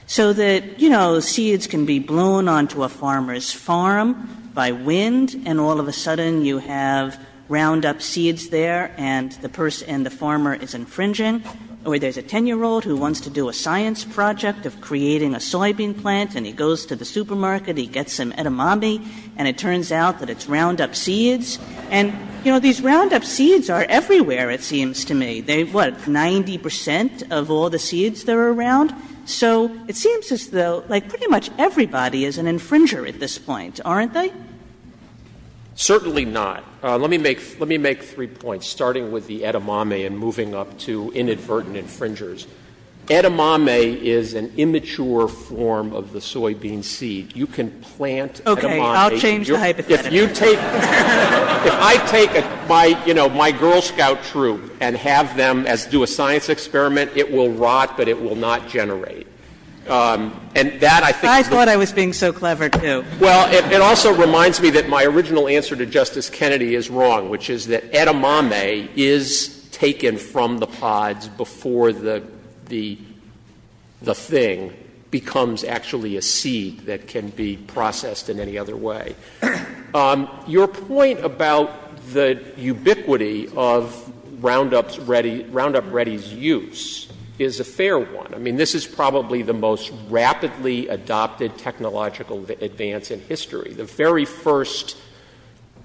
So that, you know, seeds can be blown onto a farmer's farm by wind and all of a sudden you have Roundup seeds there and the farmer is infringing or there's a 10-year-old who wants to do a science project of creating a soybean plant and he goes to the supermarket, he gets some edamame, and it turns out that it's Roundup seeds. And, you know, these Roundup seeds are everywhere, it seems to me. They're, what, 90% of all the seeds that are around? So it seems as though, like, pretty much everybody is an infringer at this point, aren't they? Certainly not. Let me make three points, starting with the edamame and moving up to inadvertent infringers. Edamame is an immature form of the soybean seed. You can plant edamame... Okay, I'll change the hypothetical. If you take... If I take, you know, my Girl Scout troop and have them do a science experiment, it will rot, but it will not generate. And that, I think... I thought I was being so clever, too. Well, it also reminds me that my original answer to Justice Kennedy is wrong, which is that edamame is taken from the pods before the thing becomes actually a seed that can be processed in any other way. Your point about the ubiquity of Roundup Ready's use is a fair one. I mean, this is probably the most rapidly adopted technological advance in history. The very first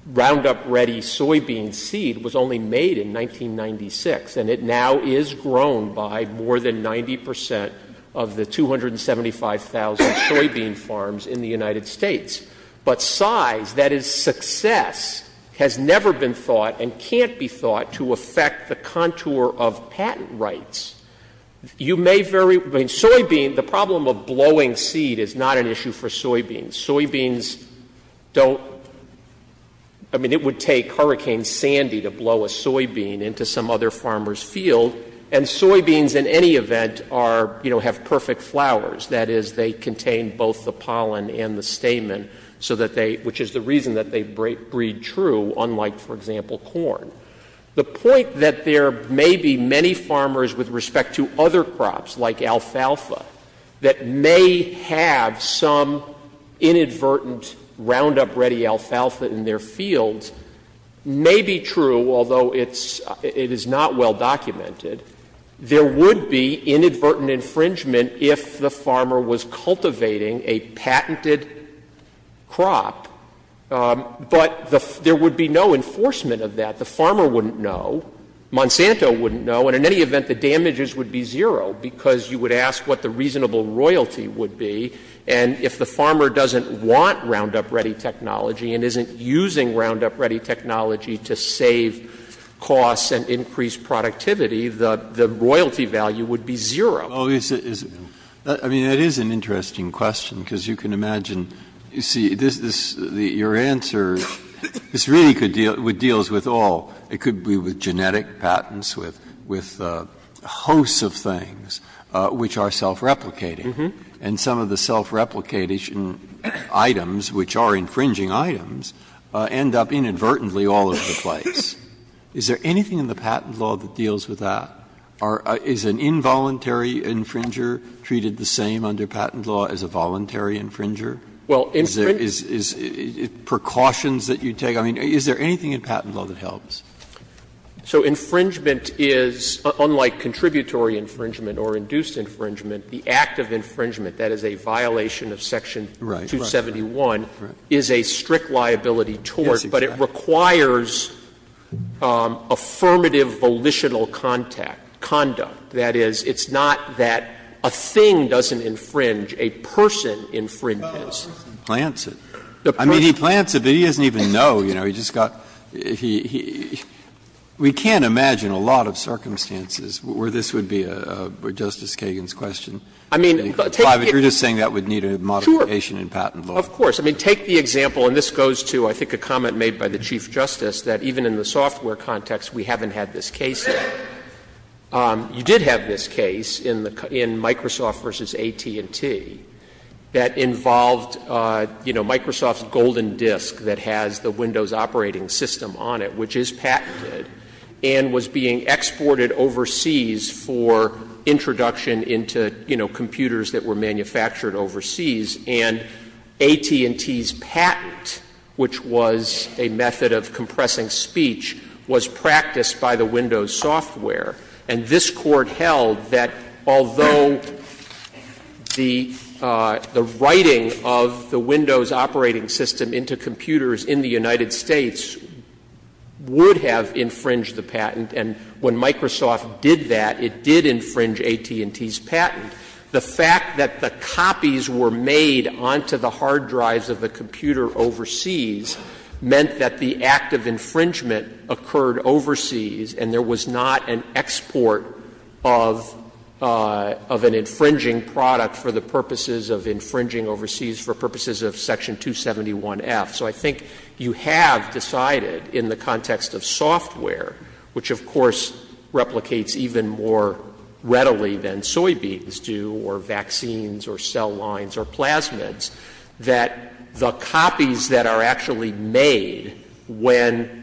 Roundup Ready soybean seed was only made in 1996, and it now is grown by more than 90% of the 275,000 soybean farms in the United States. But size, that is, success, has never been thought and can't be thought to affect the contour of patent rights. You may very... I mean, soybean, the problem of blowing seed is not an issue for soybeans. Soybeans don't... I mean, it would take Hurricane Sandy to blow a soybean into some other farmer's field, and soybeans, in any event, have perfect flowers. That is, they contain both the pollen and the stamen, which is the reason that they breed true, unlike, for example, corn. The point that there may be many farmers with respect to other crops, like alfalfa, that may have some inadvertent Roundup Ready alfalfa in their field, may be true, although it is not well documented. There would be inadvertent infringement if the farmer was cultivating a patented crop. But there would be no enforcement of that. The farmer wouldn't know. Monsanto wouldn't know. And in any event, the damages would be zero, because you would ask what the reasonable royalty would be, and if the farmer doesn't want Roundup Ready technology and isn't using Roundup Ready technology to save costs and increase productivity, the royalty value would be zero. Oh, it's... I mean, that is an interesting question, because you can imagine... You see, your answer... This really deals with all. It could be with genetic patents, with hosts of things which are self-replicating, and some of the self-replicating items, which are infringing items, end up inadvertently all over the place. Is there anything in the patent law that deals with that? Is an involuntary infringer treated the same under patent law as a voluntary infringer? Is there precautions that you take? I mean, is there anything in patent law that helps? So infringement is... Unlike contributory infringement or induced infringement, the act of infringement, that is a violation of Section 271, is a strict liability tort, but it requires affirmative volitional contact, conduct. That is, it's not that a thing doesn't infringe, a person infringes. Plants it. I mean, he plants it, but he doesn't even know. We can't imagine a lot of circumstances where this would be Justice Kagan's question. You're just saying that would need a modification in patent law. Of course. I mean, take the example, and this goes to, I think, a comment made by the Chief Justice, that even in the software context, we haven't had this case yet. You did have this case in Microsoft v. AT&T that involved Microsoft's golden disk that has the Windows operating system on it, which is patented, and was being exported overseas for introduction into computers that were manufactured overseas, and AT&T's patent, which was a method of compressing speech, was practiced by the Windows software, and this court held that although the writing of the Windows operating system into computers in the United States would have infringed the patent, and when Microsoft did that, it did infringe AT&T's patent, the fact that the copies were made onto the hard drives of the computer overseas meant that the act of infringement occurred overseas, and there was not an export of an infringing product for the purposes of infringing overseas for purposes of Section 271F. So I think you have decided in the context of software, which of course replicates even more readily than soybeans do or vaccines or cell lines or plasmids, that the copies that are actually made when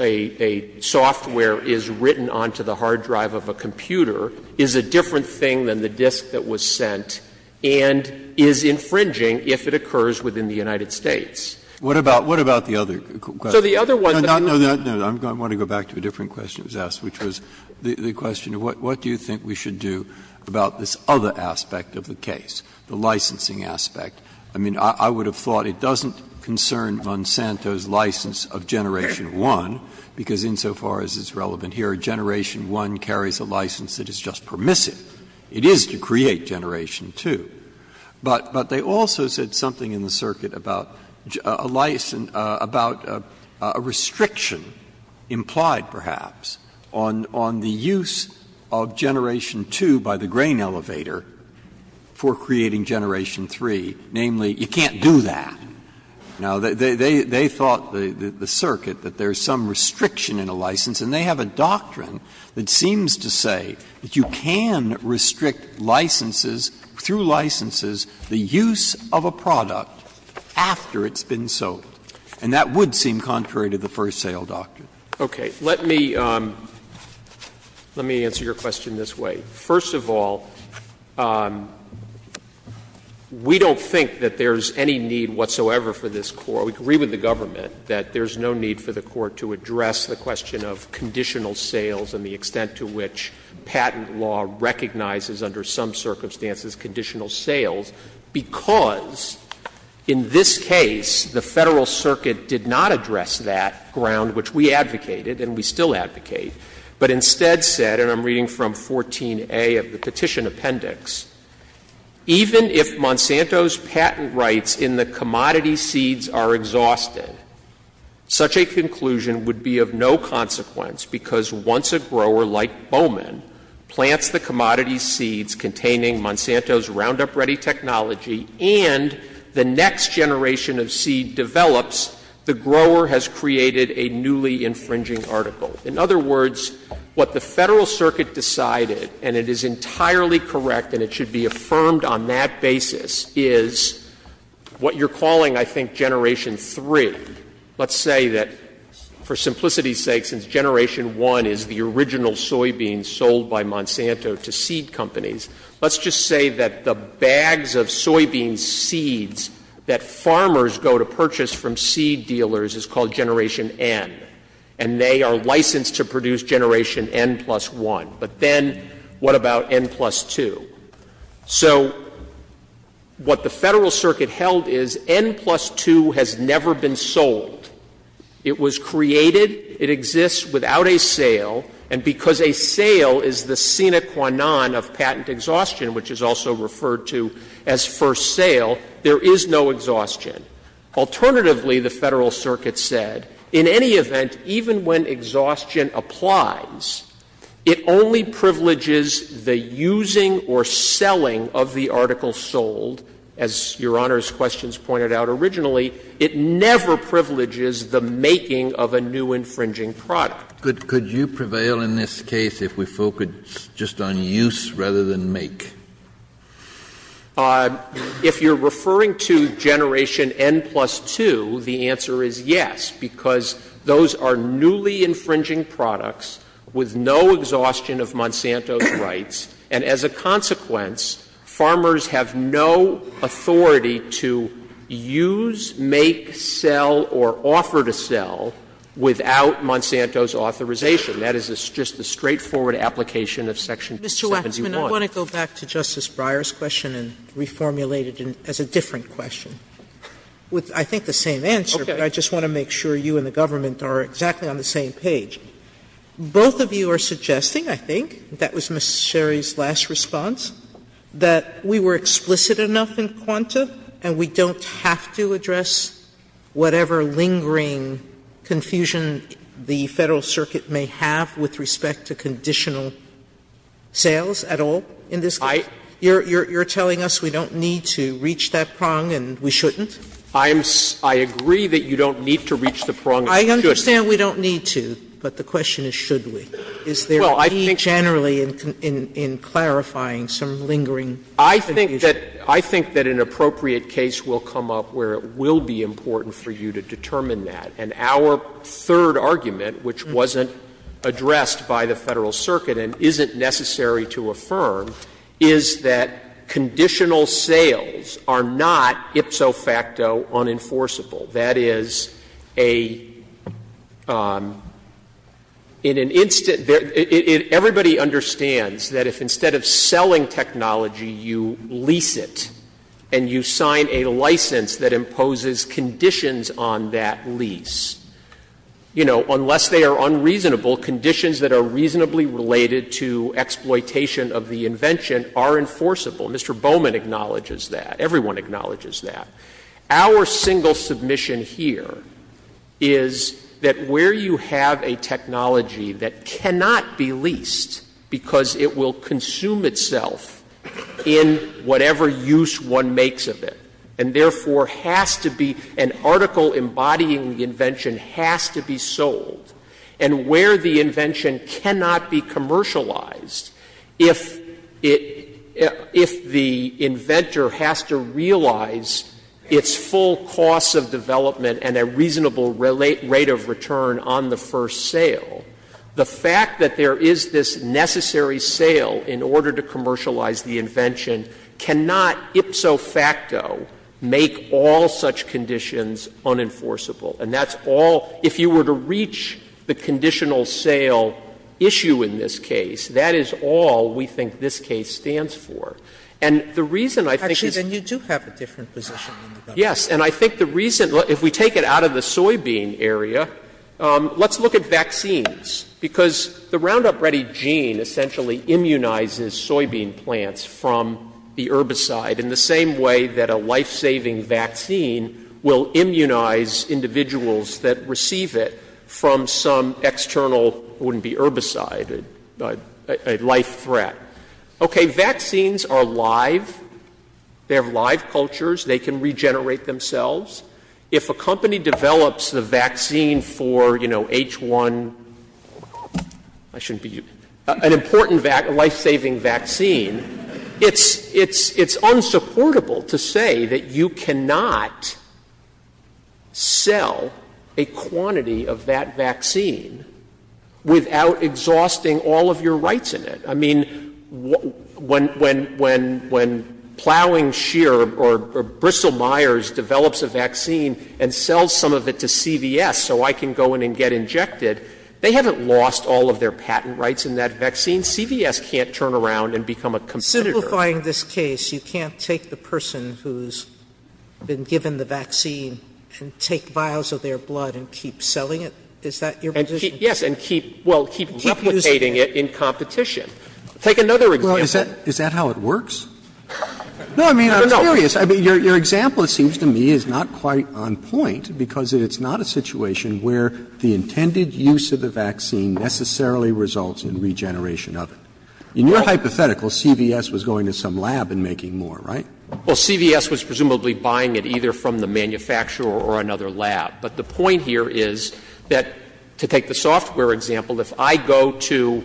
a software is written onto the hard drive of a computer is a different thing than the disk that was sent and is infringing if it occurs within the United States. What about the other question? I want to go back to a different question that was asked, which was the question of what do you think we should do about this other aspect of the case, the licensing aspect. I mean, I would have thought it doesn't concern Monsanto's license of Generation 1, because insofar as it's relevant here, Generation 1 carries a license that is just permissive. It is to create Generation 2. But they also said something in the circuit about a restriction implied perhaps on the use of Generation 2 by the grain elevator for creating Generation 3, namely, you can't do that. Now, they thought, the circuit, that there's some restriction in a license, and they have a doctrine that seems to say that you can restrict licenses, through licenses, the use of a product after it's been sold. And that would seem contrary to the first sale doctrine. Okay. Let me answer your question this way. First of all, we don't think that there's any need whatsoever for this Court, we agree with the government, that there's no need for the Court to address the question of conditional sales and the extent to which patent law recognizes, under some circumstances, conditional sales, because in this case, the Federal Circuit did not address that ground, which we advocated, and we still advocate, but instead said, and I'm reading from 14A of the Petition Appendix, Even if Monsanto's patent rights in the commodity seeds are exhausted, such a conclusion would be of no consequence, because once a grower, like Bowman, plants the commodity seeds containing Monsanto's Roundup Ready technology, and the next generation of seed develops, the grower has created a newly infringing article. In other words, what the Federal Circuit decided, and it is entirely correct, and it should be affirmed on that basis, is what you're calling, I think, Generation 3. Let's say that, for simplicity's sake, since Generation 1 is the original soybean sold by Monsanto to seed companies, let's just say that the bags of soybean seeds that farmers go to purchase from seed dealers is called Generation N, and they are licensed to produce Generation N plus 1. But then, what about N plus 2? So, what the Federal Circuit held is N plus 2 has never been sold. It was created, it exists without a sale, and because a sale is the sine qua non of patent exhaustion, which is also referred to as first sale, there is no exhaustion. Alternatively, the Federal Circuit said, in any event, even when exhaustion applies, it only privileges the using or selling of the article sold. As Your Honor's questions pointed out originally, it never privileges the making of a new infringing product. Could you prevail in this case if we focus just on use rather than make? If you're referring to Generation N plus 2, the answer is yes, because those are newly infringing products with no exhaustion of Monsanto's rights, and as a consequence, farmers have no authority to use, make, sell, or offer to sell without Monsanto's authorization. That is just the straightforward application of Section 21. Mr. Waxman, I want to go back to Justice Breyer's question and reformulate it as a different question with, I think, the same answer, but I just want to make sure you and the government are exactly on the same page. Both of you are suggesting, I think, that was Ms. Sherry's last response, that we were explicit enough in quanta and we don't have to address whatever lingering confusion the Federal Circuit may have with respect to conditional sales at all in this case? You're telling us we don't need to reach that prong and we shouldn't? I agree that you don't need to reach the prong and we shouldn't. I understand we don't need to, but the question is should we? Is there a need generally in clarifying some lingering confusion? I think that an appropriate case will come up where it will be important for you to determine that. And our third argument, which wasn't addressed by the Federal Circuit and isn't necessary to affirm, is that conditional sales are not ipso facto unenforceable. That is, everybody understands that if instead of selling technology you lease it and you sign a license that imposes conditions on that lease, unless they are unreasonable, conditions that are reasonably related to exploitation of the invention are enforceable. Mr. Bowman acknowledges that. Everyone acknowledges that. Our single submission here is that where you have a technology that cannot be leased because it will consume itself in whatever use one makes of it and therefore an article embodying the invention has to be sold and where the invention cannot be commercialized if the inventor has to realize its full cost of development and a reasonable rate of return on the first sale, the fact that there is this necessary sale in order to commercialize the invention cannot ipso facto make all such conditions unenforceable. And that's all — if you were to reach the conditional sale issue in this case, that is all we think this case stands for. And the reason I think — Actually, then you do have a different position. Yes. And I think the reason — if we take it out of the soybean area, let's look at vaccines. Because the Roundup Ready gene essentially immunizes soybean plants from the herbicide in the same way that a life-saving vaccine will immunize individuals that receive it from some external — it wouldn't be herbicide — a life threat. Okay, vaccines are live. They're live cultures. They can regenerate themselves. If a company develops the vaccine for H1 — I shouldn't be — an important life-saving vaccine, it's unsupportable to say that you cannot sell a quantity of that vaccine without exhausting all of your rights in it. I mean, when Plowing Shear or Bristol-Myers develops a vaccine and sells some of it to CVS so I can go in and get injected, they haven't lost all of their patent rights in that vaccine. CVS can't turn around and become a competitor. Simplifying this case, you can't take the person who's been given the vaccine and take vials of their blood and keep selling it? Is that your position? Yes, and keep replicating it in competition. Take another example. Well, is that how it works? No, I mean, I'm curious. Your example, it seems to me, is not quite on point because it's not a situation where the intended use of the vaccine necessarily results in regeneration of it. In your hypothetical, CVS was going to some lab and making more, right? Well, CVS was presumably buying it either from the manufacturer or another lab. But the point here is that, to take the software example, if I go to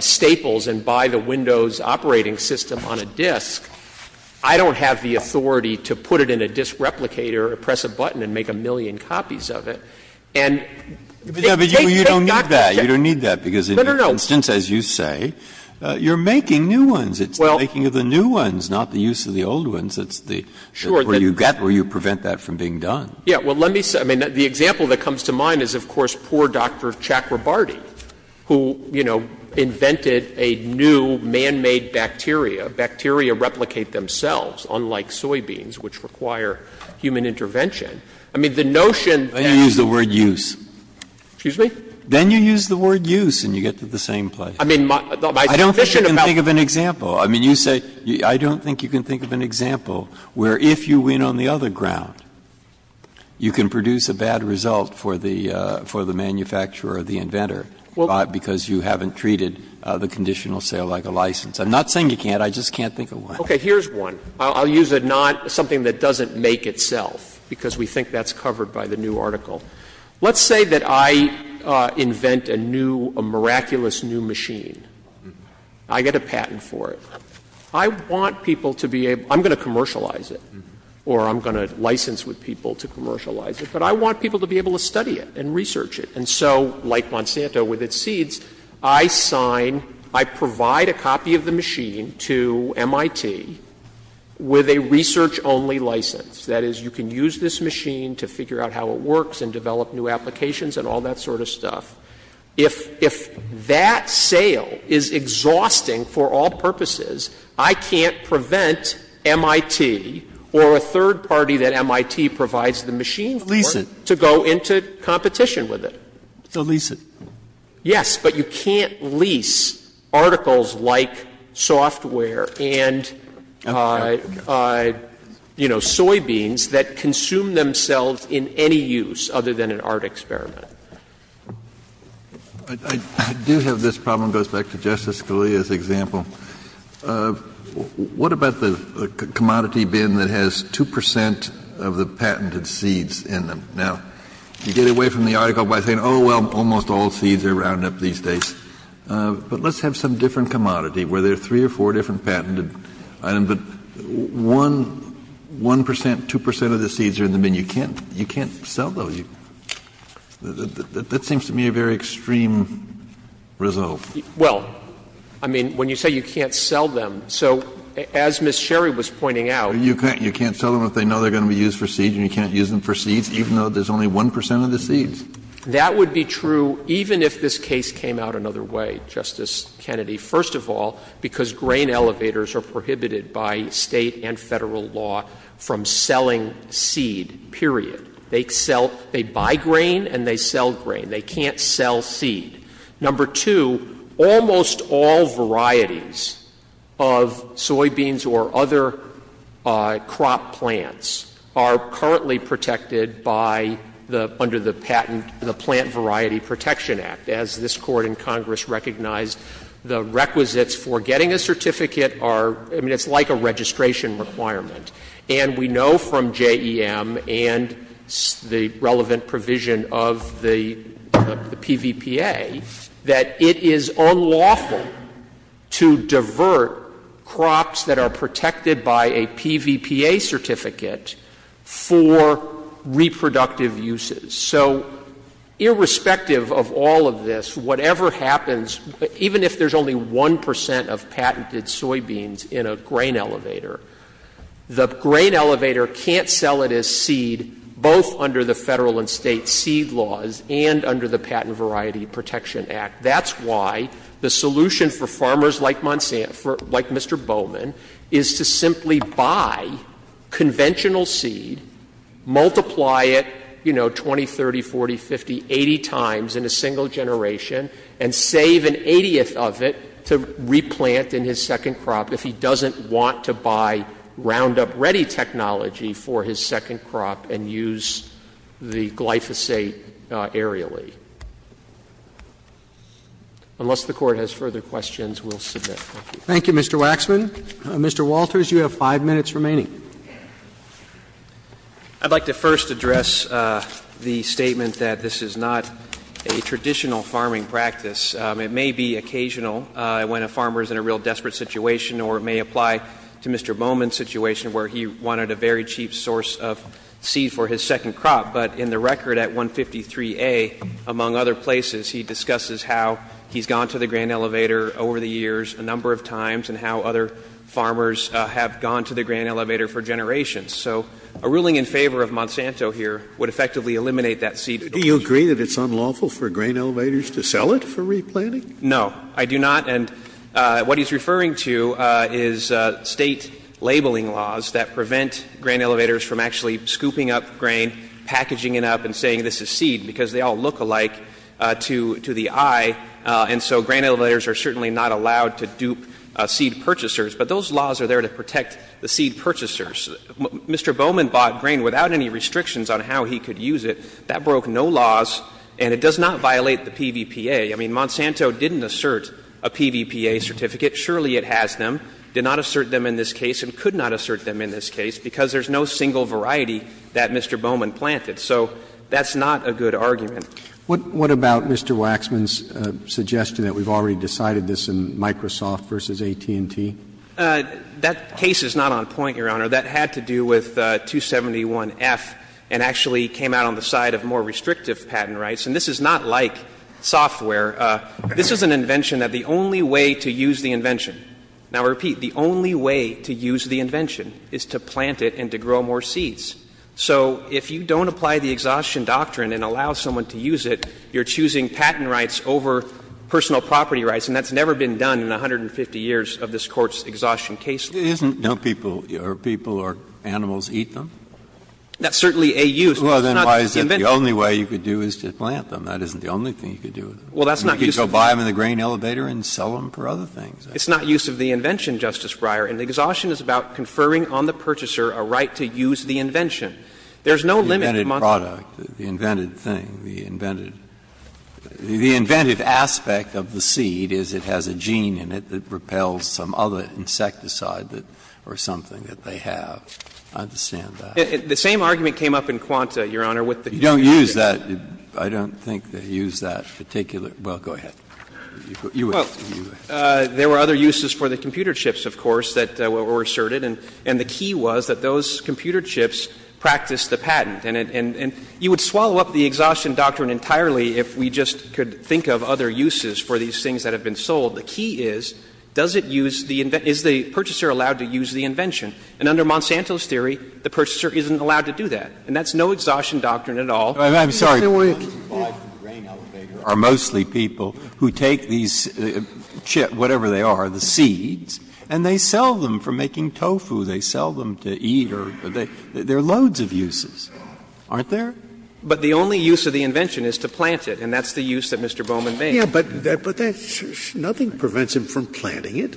Staples and buy the Windows operating system on a disk, I don't have the authority to put it in a disk replicator or press a button and make a million copies of it. But you don't need that because, as you say, you're making new ones. It's the making of the new ones, not the use of the old ones. That's where you prevent that from being done. Yeah, well, let me say, I mean, the example that comes to mind is, of course, poor Dr. Chakrabarty, who invented a new man-made bacteria. Bacteria replicate themselves, unlike soybeans, which require human intervention. I mean, the notion that... Then you use the word use. Excuse me? Then you use the word use and you get to the same place. I don't think you can think of an example. I mean, you say, I don't think you can think of an example where, if you win on the other ground, you can produce a bad result for the manufacturer or the inventor because you haven't treated the conditional sale like a license. I'm not saying you can't. I just can't think of one. Okay, here's one. I'll use something that doesn't make itself because we think that's covered by the new article. Let's say that I invent a miraculous new machine. I get a patent for it. I want people to be able... I'm going to commercialize it or I'm going to license with people to commercialize it, but I want people to be able to study it and research it. And so, like Monsanto with its seeds, I sign, I provide a copy of the machine to MIT with a research-only license. That is, you can use this machine to figure out how it works and develop new applications and all that sort of stuff. If that sale is exhausting for all purposes, I can't prevent MIT or a third party that MIT provides the machine for... To lease it. ...to go into competition with it. To lease it. Yes, but you can't lease articles like software and, you know, soybeans that consume themselves in any use other than an art experiment. I do have this problem. It goes back to Justice Scalia's example. What about the commodity bin that has 2% of the patented seeds in them? Now, you get away from the article by saying, oh, well, almost all seeds are rounded up these days. But let's have some different commodity where there are three or four different patented items, but 1%, 2% of the seeds are in the bin. You can't sell those. That seems to me a very extreme resolve. Well, I mean, when you say you can't sell them, so as Ms. Sherry was pointing out... You can't sell them if they know they're going to be used for seeds and you can't use them for seeds even though there's only 1% of the seeds. That would be true even if this case came out another way, Justice Kennedy. First of all, because grain elevators are prohibited by state and federal law from selling seed, period. They buy grain and they sell grain. They can't sell seed. Number two, almost all varieties of soybeans or other crop plants are currently protected under the patent in the Plant Variety Protection Act, as this Court in Congress recognized. The requisites for getting a certificate are... I mean, it's like a registration requirement. And we know from JEM and the relevant provision of the PVPA that it is unlawful to divert crops that are protected by a PVPA certificate for reproductive uses. So, irrespective of all of this, whatever happens, even if there's only 1% of patented soybeans in a grain elevator, the grain elevator can't sell it as seed both under the federal and state seed laws and under the Patent Variety Protection Act. That's why the solution for farmers like Mr. Bowman is to simply buy conventional seed, multiply it, you know, 20, 30, 40, 50, 80 times in a single generation, and save an 80th of it to replant in his second crop if he doesn't want to buy Roundup Ready technology for his second crop and use the glyphosate aerially. Unless the Court has further questions, we'll submit. Thank you, Mr. Waxman. Mr. Walters, you have five minutes remaining. I'd like to first address the statement that this is not a traditional farming practice. It may be occasional when a farmer is in a real desperate situation or it may apply to Mr. Bowman's situation where he wanted a very cheap source of seed for his second crop, but in the record at 153A, among other places, he discusses how he's gone to the grain elevator over the years a number of times and how other farmers have gone to the grain elevator for generations. So a ruling in favor of Monsanto here would effectively eliminate that seed... Do you agree that it's unlawful for grain elevators to sell it for replanting? No, I do not. And what he's referring to is state labeling laws that prevent grain elevators from actually scooping up grain, packaging it up, and saying this is seed because they all look alike to the eye, and so grain elevators are certainly not allowed to dupe seed purchasers, but those laws are there to protect the seed purchasers. Mr. Bowman bought grain without any restrictions on how he could use it. That broke no laws, and it does not violate the PVPA. I mean, Monsanto didn't assert a PVPA certificate. Surely it has them. It did not assert them in this case and could not assert them in this case because there's no single variety that Mr. Bowman planted. So that's not a good argument. What about Mr. Waxman's suggestion that we've already decided this in Microsoft versus AT&T? That case is not on point, Your Honor. That had to do with 271F and actually came out on the side of more restrictive patent rights, and this is not like software. This is an invention that the only way to use the invention... Now, I repeat, the only way to use the invention is to plant it and to grow more seeds. So if you don't apply the exhaustion doctrine and allow someone to use it, you're choosing patent rights over personal property rights, and that's never been done in 150 years of this Court's exhaustion case. Isn't no people or animals eat them? That's certainly a use... Well, then why is it the only way you could do is to plant them? That isn't the only thing you could do. You could go buy them in the grain elevator and sell them for other things. It's not use of the invention, Justice Breyer, and exhaustion is about conferring on the purchaser a right to use the invention. There's no limit... The invented product, the invented thing, the invented... The inventive aspect of the seed is it has a gene in it that repels some other insecticide or something that they have. I understand that. The same argument came up in Quanta, Your Honor, with the... You don't use that. I don't think they use that particular... Well, go ahead. Well, there were other uses for the computer chips, of course, that were asserted, and the key was that those computer chips practiced the patent, and you would swallow up the exhaustion doctrine entirely if we just could think of other uses for these things that have been sold. The key is, does it use the... Is the purchaser allowed to use the invention? And under Monsanto's theory, the purchaser isn't allowed to do that, and that's no exhaustion doctrine at all. I'm sorry. ...are mostly people who take these chips, whatever they are, the seeds, and they sell them for making tofu. They sell them to eat or... There are loads of uses, aren't there? But the only use of the invention is to plant it, and that's the use that Mr. Bowman made. Yeah, but that... Nothing prevents him from planting it.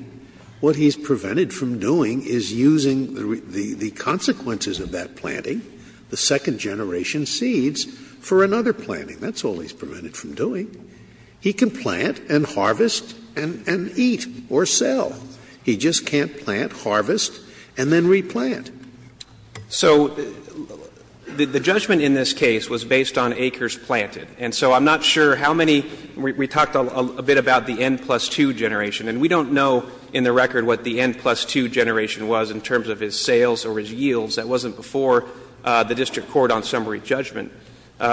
What he's prevented from doing is using the consequences of that planting, the second-generation seeds, for another planting. That's all he's prevented from doing. He can plant and harvest and eat or sell. He just can't plant, harvest, and then replant. So the judgment in this case was based on acres planted, and so I'm not sure how many... We talked a bit about the N plus 2 generation, and we don't know in the record what the N plus 2 generation was in terms of his sales or his yields. That wasn't before the district court on summary judgment.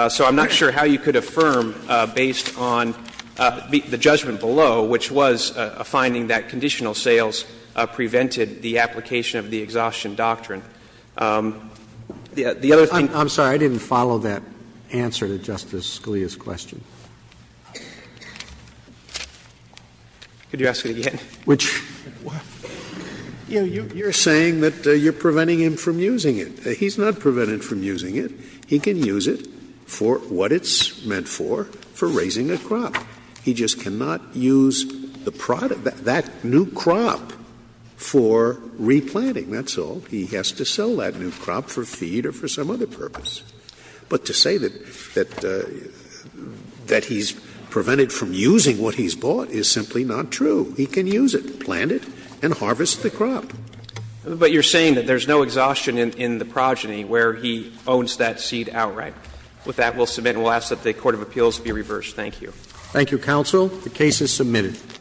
So I'm not sure how you could affirm based on the judgment below, which was a finding that conditional sales prevented the application of the exhaustion doctrine. The other thing... I'm sorry. I didn't follow that answer to Justice Scalia's question. Could you ask it again? You're saying that you're preventing him from using it. He's not prevented from using it. He can use it for what it's meant for, for raising a crop. He just cannot use that new crop for replanting. That's all. He has to sell that new crop for feed or for some other purpose. But to say that he's prevented from using what he's bought is simply not true. He can use it, plant it, and harvest the crop. But you're saying that there's no exhaustion in the progeny where he owns that seed outright. With that, we'll submit, and we'll ask that the Court of Appeals be reversed. Thank you. Thank you, counsel. The case is submitted.